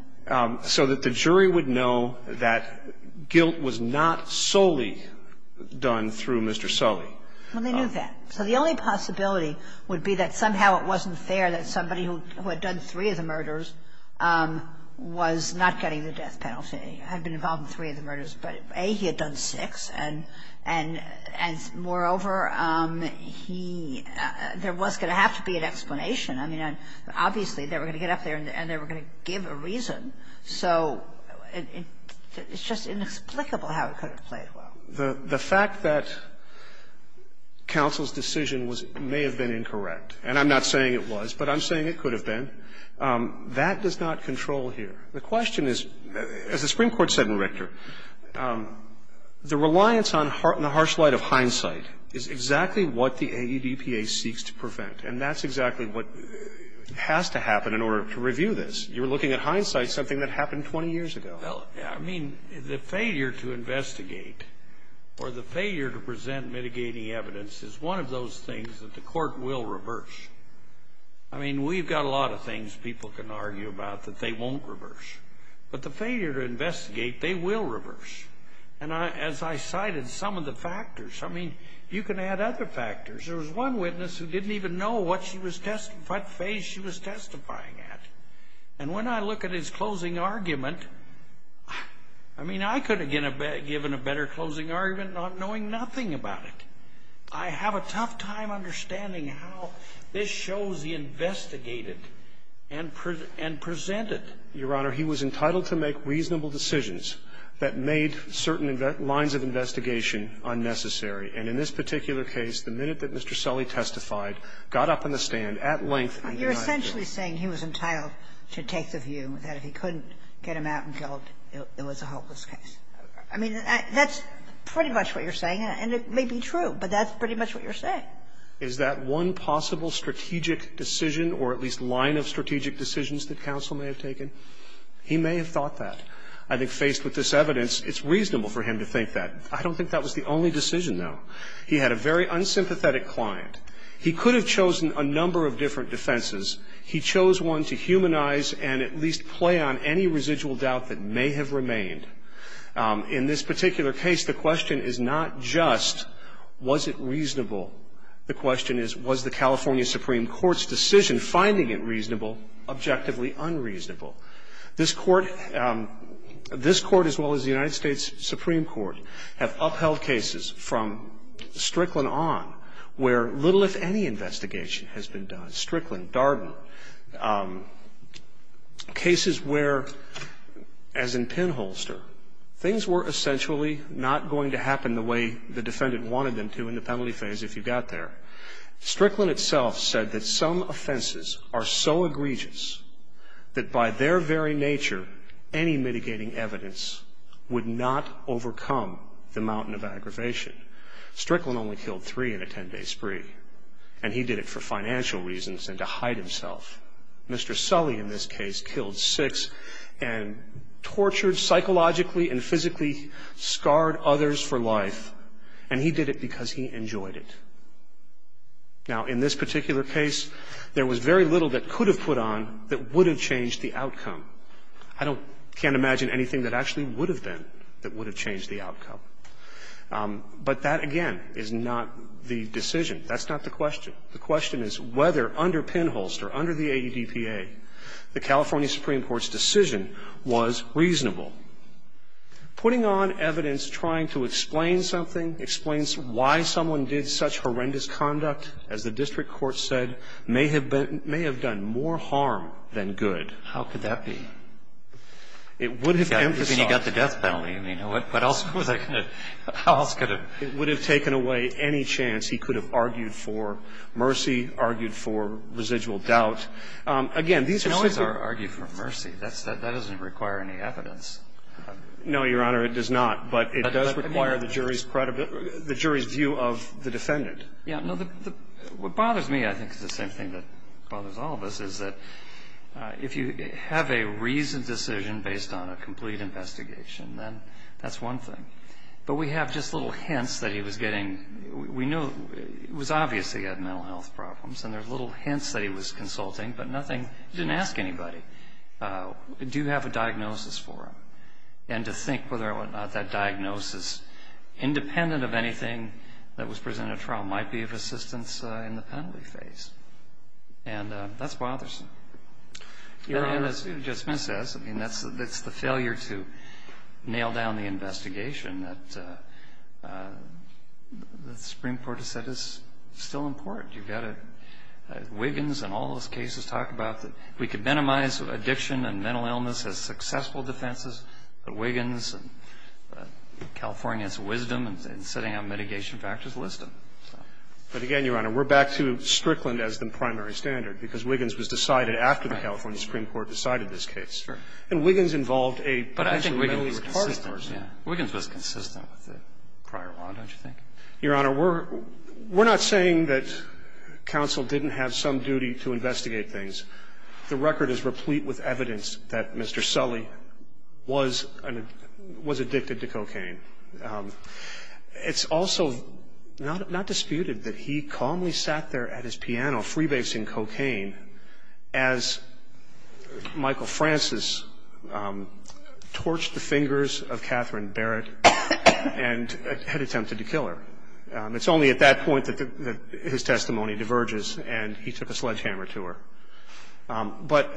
So that the jury would know that guilt was not solely done through Mr. Sully. Well, they knew that. So the only possibility would be that somehow it wasn't fair that somebody who had done three of the murders was not getting the death penalty. He had been involved in three of the murders, but A, he had done six. And moreover, there was going to have to be an explanation. I mean, obviously they were going to get up there and they were going to give a reason. So it's just inexplicable how it could have played well. The fact that counsel's decision may have been incorrect, and I'm not saying it was, but I'm saying it could have been, that does not control here. The question is, as the Supreme Court said in Richter, the reliance on the harsh light of hindsight is exactly what the AEDPA seeks to prevent. And that's exactly what has to happen in order to review this. You're looking at hindsight, something that happened 20 years ago. I mean, the failure to investigate or the failure to present mitigating evidence is one of those things that the court will reverse. I mean, we've got a lot of things people can argue about that they won't reverse. But the failure to investigate, they will reverse. And as I cited, some of the factors. I mean, you can add other factors. There was one witness who didn't even know what phase she was testifying at. And when I look at his closing argument, I mean, I could have given a better closing argument not knowing nothing about it. I have a tough time understanding how this shows he investigated and presented. Your Honor, he was entitled to make reasonable decisions that made certain lines of investigation unnecessary. And in this particular case, the minute that Mr. Sully testified, got up on the stand at length and denied it. You're essentially saying he was entitled to take the view that if he couldn't get him out and dealt, it was a hopeless case. I mean, that's pretty much what you're saying. And it may be true, but that's pretty much what you're saying. Is that one possible strategic decision or at least line of strategic decisions that counsel may have taken? He may have thought that. I think faced with this evidence, it's reasonable for him to think that. I don't think that was the only decision, though. He had a very unsympathetic client. He could have chosen a number of different defenses. He chose one to humanize and at least play on any residual doubt that may have remained. In this particular case, the question is not just, was it reasonable? The question is, was the California Supreme Court's decision finding it reasonable objectively unreasonable? This court, as well as the United States Supreme Court, have upheld cases from Strickland on, where little, if any, investigation has been done. Strickland, Darden. Cases where, as in Pinholster, things were essentially not going to happen the way the defendant wanted them to in the penalty phase if you got there. Strickland itself said that some offenses are so egregious that by their very nature, any mitigating evidence would not overcome the mountain of aggravation. Strickland only killed three in a 10-day spree, and he did it for financial reasons and to hide himself. Mr. Sully, in this case, killed six and tortured psychologically and physically, scarred others for life, and he did it because he enjoyed it. Now, in this particular case, there was very little that could have put on that would have changed the outcome. I can't imagine anything that actually would have been that would have changed the outcome. But that, again, is not the decision. That's not the question. The question is whether under Pinholster, under the ADPA, the California Supreme Court's decision was reasonable. Putting on evidence trying to explain something, explain why someone did such horrendous conduct, as the district court said, may have done more harm than good. How could that be? It would have emphasized. I mean, he got the death penalty. I mean, you know what? What else could have? It would have taken away any chance he could have argued for mercy, argued for residual doubt. Again, these are... Pinholster argued for mercy. That doesn't require any evidence. No, Your Honor, it does not. But it does require the jury's view of the defendant. What bothers me, I think, is the same thing that bothers all of us, is that if you have a reasoned decision based on a complete investigation, then that's one thing. But we have just little hints that he was getting... We know it was obvious that he had mental health problems, and there's little hints that he was consulting, but nothing... He didn't ask anybody, do you have a diagnosis for him? And to think whether or not that diagnosis, independent of anything that was presented at trial, might be of assistance in the penalty phase. And that's bothersome. You just missed this. I mean, that's the failure to nail down the investigation that the Supreme Court has said is still important. You've got Wiggins and all those cases talk about that... But Wiggins and California's wisdom in setting up mitigation factors is wisdom. But again, Your Honor, we're back to Strickland as the primary standard, because Wiggins was decided after the California Supreme Court decided this case. And Wiggins involved a... But I think Wiggins was consistent. Wiggins was consistent with the prior round, don't you think? Your Honor, we're not saying that counsel didn't have some duty to investigate things. The record is replete with evidence that Mr. Sully was addicted to cocaine. It's also not disputed that he calmly sat there at his piano freebasing cocaine as Michael Francis torched the fingers of Catherine Barrett and had attempted to kill her. It's only at that point that his testimony diverges and he took a sledgehammer to her. But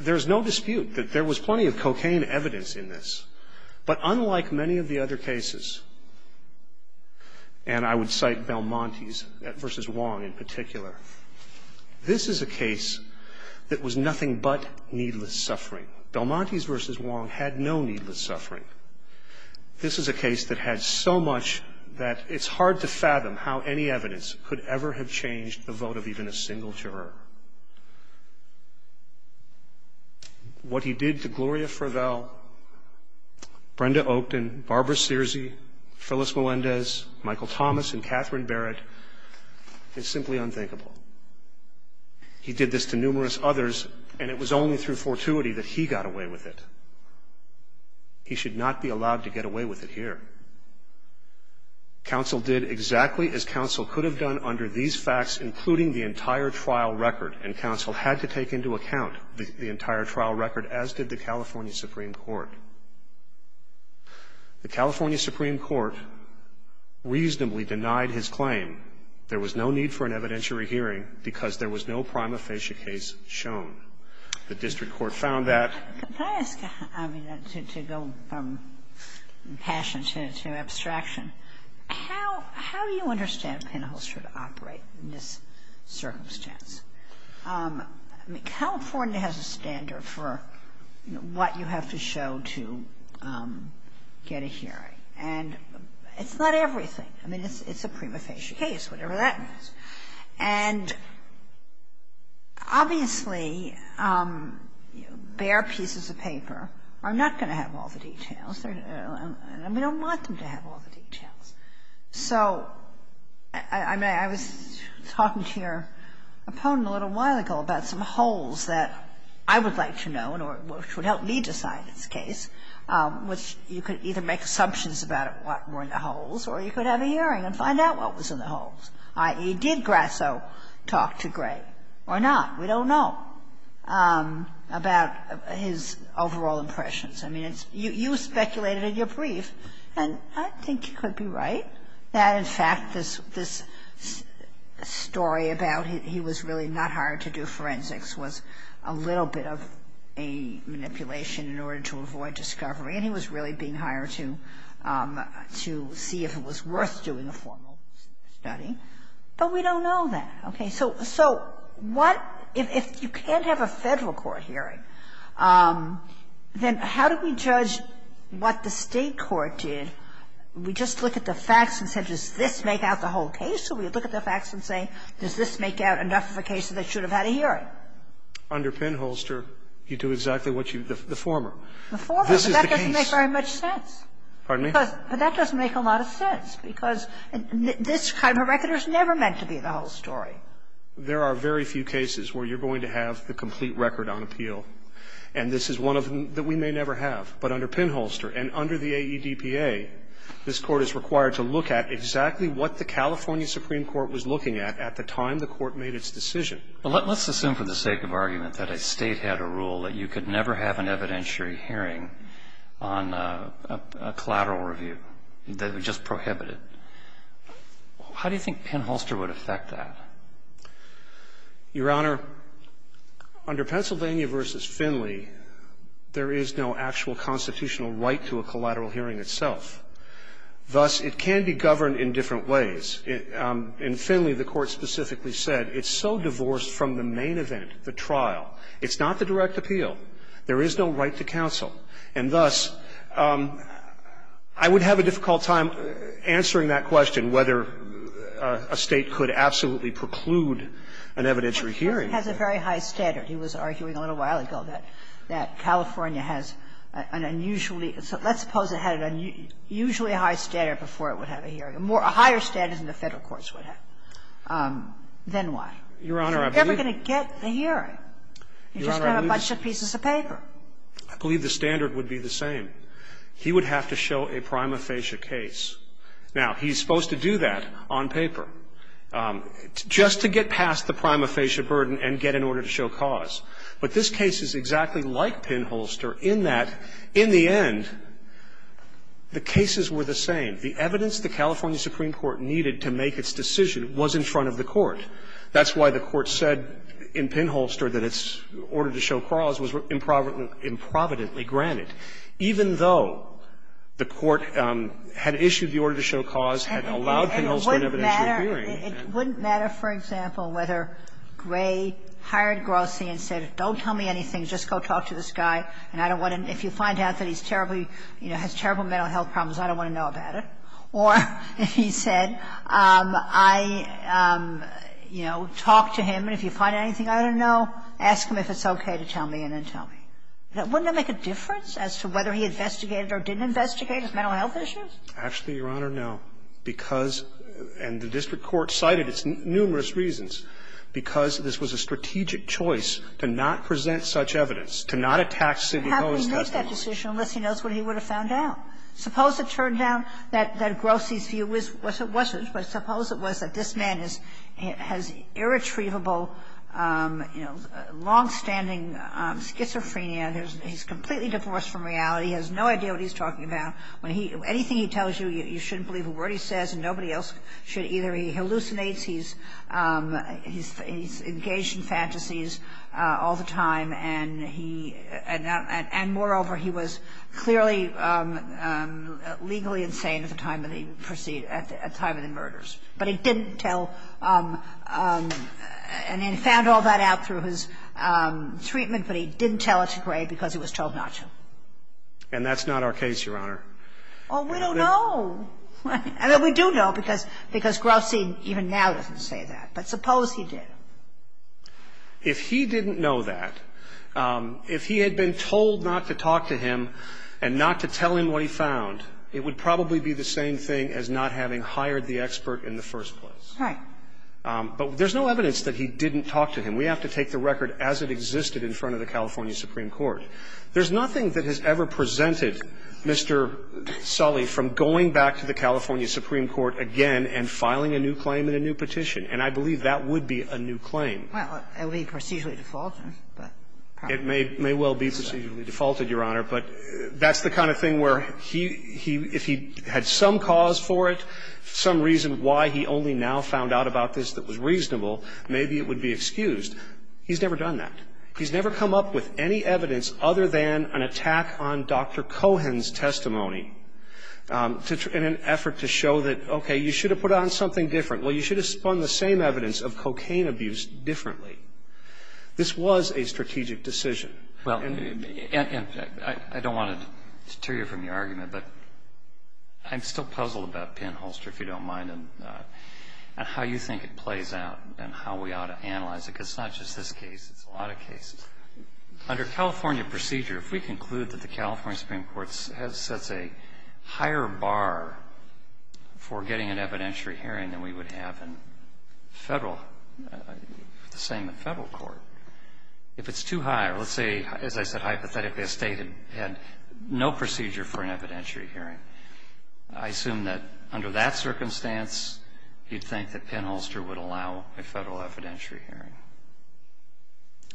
there's no dispute that there was plenty of cocaine evidence in this. But unlike many of the other cases, and I would cite Belmontes v. Wong in particular, this is a case that was nothing but needless suffering. Belmontes v. Wong had no needless suffering. This is a case that had so much that it's hard to fathom how any evidence could ever have changed the vote of even a single juror. What he did to Gloria Frivel, Brenda Oakden, Barbara Searcy, Phyllis Melendez, Michael Thomas, and Catherine Barrett is simply unthinkable. He did this to numerous others, and it was only through fortuity that he got away with it. He should not be allowed to get away with it here. Counsel did exactly as counsel could have done under these facts, including the entire trial record, and counsel had to take into account the entire trial record, as did the California Supreme Court. The California Supreme Court reasonably denied his claim. There was no need for an evidentiary hearing because there was no prima facie case shown. The district court found that. Can I ask a question? I mean, that seems to go from passion to abstraction. How do you understand penhole should operate in this circumstance? California has a standard for what you have to show to get a hearing, and it's not everything. I mean, it's a prima facie case, whatever that means. And obviously, bare pieces of paper are not going to have all the details. And we don't want them to have all the details. So, I mean, I was talking to your opponent a little while ago about some holes that I would like to know, which would help me decide this case, which you could either make assumptions about what were in the holes, or you could have a hearing and find out what was in the holes, i.e. did Grasso talk to Gray or not? We don't know about his overall impressions. I mean, you speculated in your brief, and I think you could be right that, in fact, this story about he was really not hired to do forensics was a little bit of a manipulation in order to avoid discovery, and he was really being hired to see if it was worth doing a formal study. But we don't know that. Okay. So what – if you can't have a federal court hearing, then how do we judge what the state court did? We just look at the facts and say, does this make out the whole case? Or we look at the facts and say, does this make out enough of a case that they should have had a hearing? Under Penholster, you do exactly what you – the former. The former? This is the case. That doesn't make very much sense. Pardon me? But that doesn't make a lot of sense because this kind of record is never meant to be the whole story. There are very few cases where you're going to have the complete record on appeal, and this is one of them that we may never have. But under Penholster and under the AEDPA, this court is required to look at exactly what the California Supreme Court was looking at at the time the court made its decision. Let's assume for the sake of argument that a state had a rule that you could never have an evidentiary hearing on a collateral review. That it was just prohibited. How do you think Penholster would affect that? Your Honor, under Pennsylvania v. Finley, there is no actual constitutional right to a collateral hearing itself. Thus, it can be governed in different ways. In Finley, the court specifically said it's so divorced from the main event, the trial. It's not the direct appeal. There is no right to counsel. And thus, I would have a difficult time answering that question, whether a state could absolutely preclude an evidentiary hearing. It has a very high standard. He was arguing a little while ago that California has an unusually – let's suppose it had an unusually high standard before it would have a hearing. A higher standard than the federal courts would have. Then why? You're never going to get a hearing. You just have a bunch of pieces of paper. I believe the standard would be the same. He would have to show a prima facie case. Now, he's supposed to do that on paper just to get past the prima facie burden and get an order to show cause. But this case is exactly like Penholster in that, in the end, the cases were the same. The evidence the California Supreme Court needed to make its decision was in front of the court. That's why the court said in Penholster that its order to show cause was improvidently granted, even though the court had issued the order to show cause and allowed Penholster an evidentiary hearing. It wouldn't matter, for example, whether Gray hired Grossi and said, don't tell me anything, just go talk to this guy, and if you find out that he has terrible mental health problems, I don't want to know about it. Or if he said, talk to him, and if you find anything I don't know, ask him if it's okay to tell me and then tell me. Wouldn't that make a difference as to whether he investigated or didn't investigate his mental health issues? Actually, Your Honor, no, because, and the district court cited its numerous reasons, because this was a strategic choice to not present such evidence, to not attack Sidney Cohen's testimony. How could he make that decision unless he knows what he would have found out? Suppose it turned out that Grossi's view was it wasn't, but suppose it was that this man has irretrievable, you know, longstanding schizophrenia, and he's completely divorced from reality, has no idea what he's talking about. Anything he tells you, you shouldn't believe a word he says, and nobody else should either. He hallucinates, he's engaged in fantasies all the time, and moreover, he was clearly legally insane at the time of the murders. But he didn't tell, and he found all that out through his treatment, but he didn't tell it to Gray because he was told not to. And that's not our case, Your Honor. Well, we don't know. I mean, we do know because Grossi even now doesn't say that, but suppose he did. If he didn't know that, if he had been told not to talk to him and not to tell him what he found, it would probably be the same thing as not having hired the expert in the first place. Right. But there's no evidence that he didn't talk to him. We have to take the record as it existed in front of the California Supreme Court. There's nothing that has ever presented Mr. Sully from going back to the California Supreme Court again and filing a new claim in a new petition, and I believe that would be a new claim. Well, it would be procedurally defaulted. It may well be procedurally defaulted, Your Honor, but that's the kind of thing where if he had some cause for it, some reason why he only now found out about this that was reasonable, maybe it would be excused. He's never done that. He's never come up with any evidence other than an attack on Dr. Cohen's testimony in an effort to show that, okay, you should have put on something different. Well, you should have spun the same evidence of cocaine abuse differently. This was a strategic decision. Well, I don't want to deteriorate from your argument, but I'm still puzzled about Penn Holster, if you don't mind, and how you think it plays out and how we ought to analyze it Under California procedure, if we conclude that the California Supreme Court has such a higher bar for getting an evidentiary hearing than we would have in the same federal court, if it's too high, or let's say, as I said, hypothetically, if they had no procedure for an evidentiary hearing, I assume that under that circumstance, you'd think that Penn Holster would allow a federal evidentiary hearing.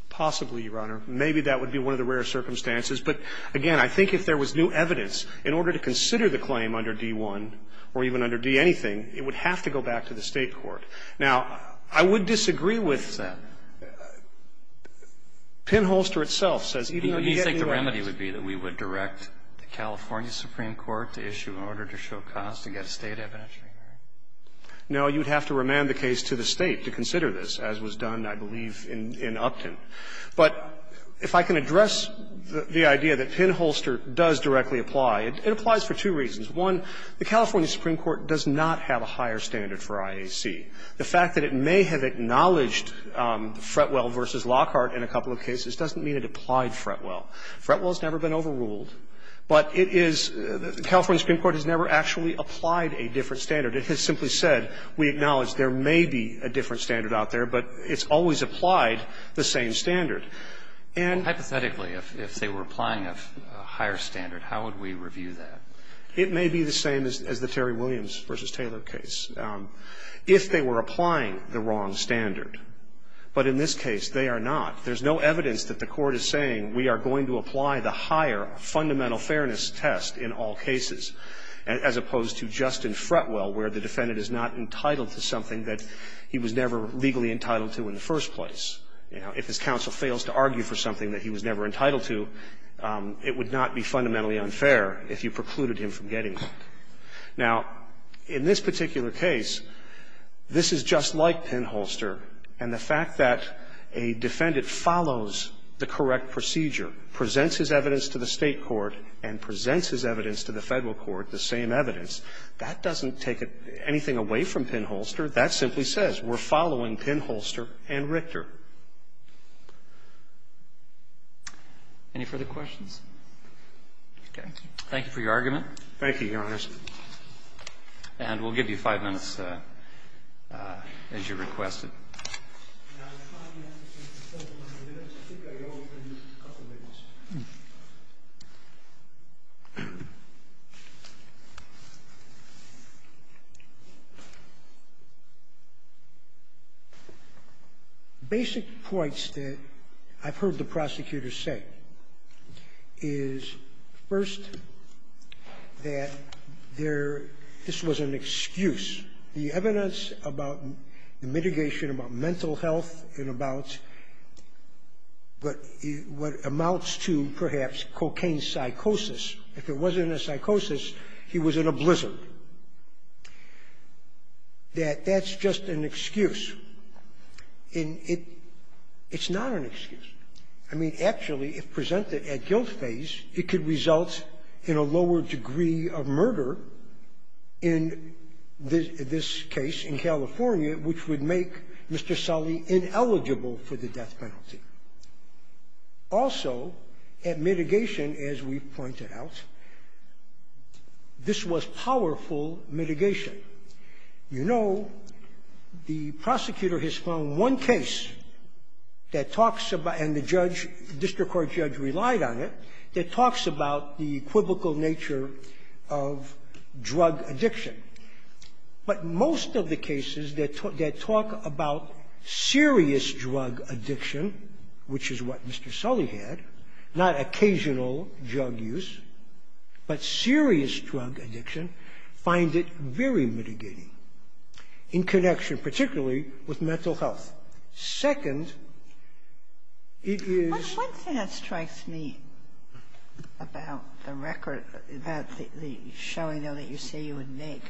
Possibly, Your Honor. Maybe that would be one of the rare circumstances, but again, I think if there was new evidence, in order to consider the claim under D-1, or even under D-anything, it would have to go back to the state court. Now, I would disagree with that. Penn Holster itself says even if you get the evidence... Do you think the remedy would be that we would direct the California Supreme Court to issue an order to show cause to get a state evidentiary hearing? No, you'd have to remand the case to the state to consider this, as was done, I believe, in Upton. But if I can address the idea that Penn Holster does directly apply, it applies for two reasons. One, the California Supreme Court does not have a higher standard for IAC. The fact that it may have acknowledged Fretwell v. Lockhart in a couple of cases doesn't mean it applied Fretwell. Fretwell has never been overruled, but California Supreme Court has never actually applied a different standard. It has simply said we acknowledge there may be a different standard out there, but it's always applied the same standard. Hypothetically, if they were applying a higher standard, how would we review that? It may be the same as the Terry Williams v. Taylor case. If they were applying the wrong standard, but in this case, they are not. There's no evidence that the court is saying we are going to apply the higher fundamental fairness test in all cases, as opposed to just in Fretwell, where the defendant is not entitled to something that he was never legally entitled to in the first place. If his counsel fails to argue for something that he was never entitled to, it would not be fundamentally unfair if you precluded him from getting it. Now, in this particular case, this is just like Penn Holster, and the fact that a defendant follows the correct procedure, presents his evidence to the state court, and presents his evidence to the federal court, the same evidence, that doesn't take anything away from Penn Holster. That simply says we're following Penn Holster and Richter. Any further questions? Thank you for your argument. Thank you, Your Honor. And we'll give you five minutes as you requested. The basic points that I've heard the prosecutor say is, first, that this was an excuse. The evidence about the mitigation, about mental health, and about what amounts to, perhaps, cocaine psychosis. If it wasn't a psychosis, he was in a blizzard. That that's just an excuse. And it's not an excuse. I mean, actually, if presented at guilt phase, it could result in a lower degree of murder in this case in California, which would make Mr. Sully ineligible for the death penalty. Also, at mitigation, as we've pointed out, this was powerful mitigation. You know, the prosecutor has found one case that talks about, and the district court judge relied on it, that talks about the equivocal nature of drug addiction. But most of the cases that talk about serious drug addiction, which is what Mr. Sully had, not occasional drug use, but serious drug addiction, find it very mitigating in connection, particularly, with mental health. Second, it is... One thing that strikes me about the record, about the showing, though, that you say you would make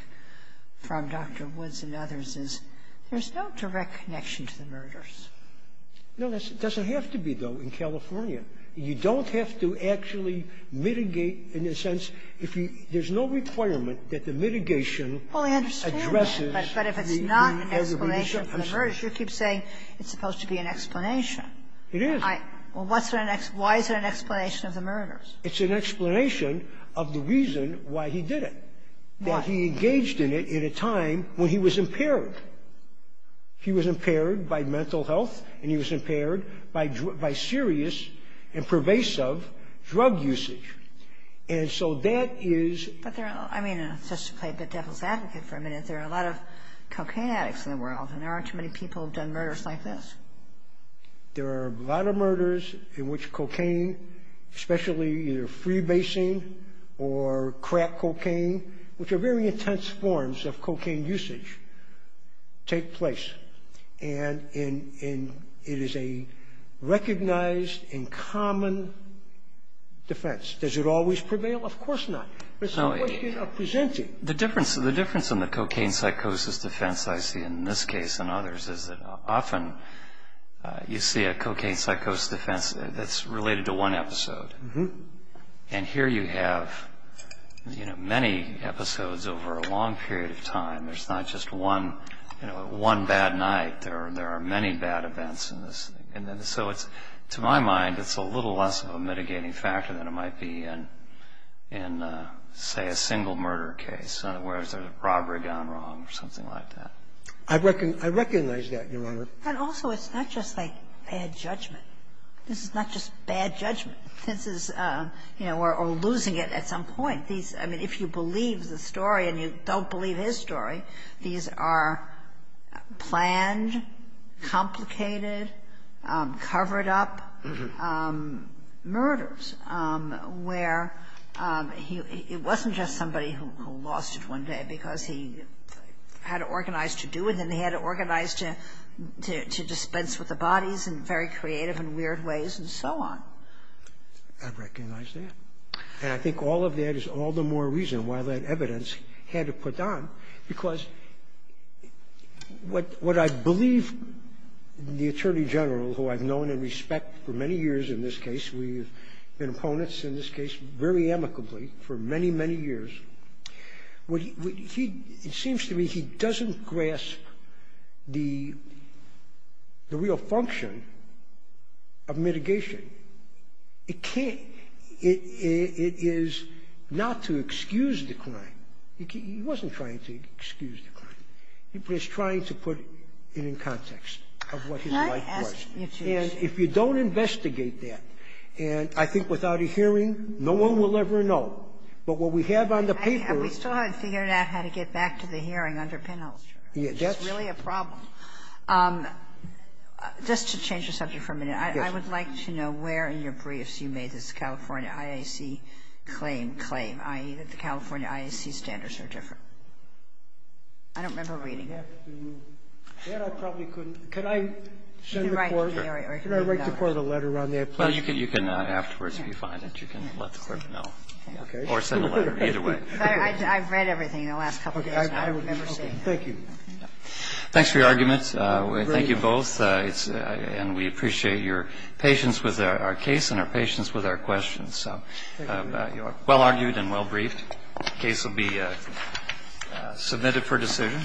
from Dr. Woods and others is, there's no direct connection to the murders. No, it doesn't have to be, though, in California. You don't have to actually mitigate, in the sense, there's no requirement that the mitigation addresses... Well, I understand that, but if it's not an explanation for the murders, you keep saying it's supposed to be an explanation. It is. Well, why is it an explanation of the murders? It's an explanation of the reason why he did it. Why? That he engaged in it in a time when he was impaired. He was impaired by mental health, and he was impaired by serious and pervasive drug usage. And so that is... I mean, just to play the devil's advocate for a minute, there are a lot of cocaine addicts in the world, and there aren't too many people who've done murders like this. There are a lot of murders in which cocaine, especially either freebasing or crack cocaine, which are very intense forms of cocaine usage, take place. And it is a recognized and common defense. Does it always prevail? Of course not. It's a question of presenting. The difference in the cocaine psychosis defense I see in this case and others is that often you see a cocaine psychosis defense that's related to one episode. And here you have many episodes over a long period of time. There's not just one bad night. There are many bad events in this. And so to my mind, it's a little less of a mitigating factor than it might be in, say, a single murder case, whereas there's robbery gone wrong or something like that. I recognize that, Your Honor. But also it's not just like bad judgment. This is not just bad judgment. This is... Or losing it at some point. If you believe the story and you don't believe his story, these are planned, complicated, covered-up murders where it wasn't just somebody who lost it one day because he had it organized to do it and he had it organized to dispense with the bodies in very creative and weird ways and so on. I recognize that. And I think all of that is all the more reason why that evidence can't be put down because what I believe the Attorney General, who I've known and respect for many years in this case, we've been opponents in this case very amicably for many, many years, it seems to me he doesn't grasp the real function of mitigation. It can't... It is not to excuse the crime. He wasn't trying to excuse the crime. He was trying to put it in context of what his life was. And if you don't investigate that, and I think without a hearing, no one will ever know, but what we have on the paper is... We still haven't figured out how to get back to the hearing under penalty. It's really a problem. Just to change the subject for a minute, I would like to know where in your briefs you made this California IAC claim, i.e., the California IAC standards are different. I don't remember reading it. Can I write you part of the letter on there? You can afterwards if you find it. You can let the court know or send a letter either way. I've read everything in the last couple of days. Thank you. Thanks for your argument. Thank you both. And we appreciate your patience with our case and our patience with our questions. So well argued and well briefed. The case will be submitted for decision.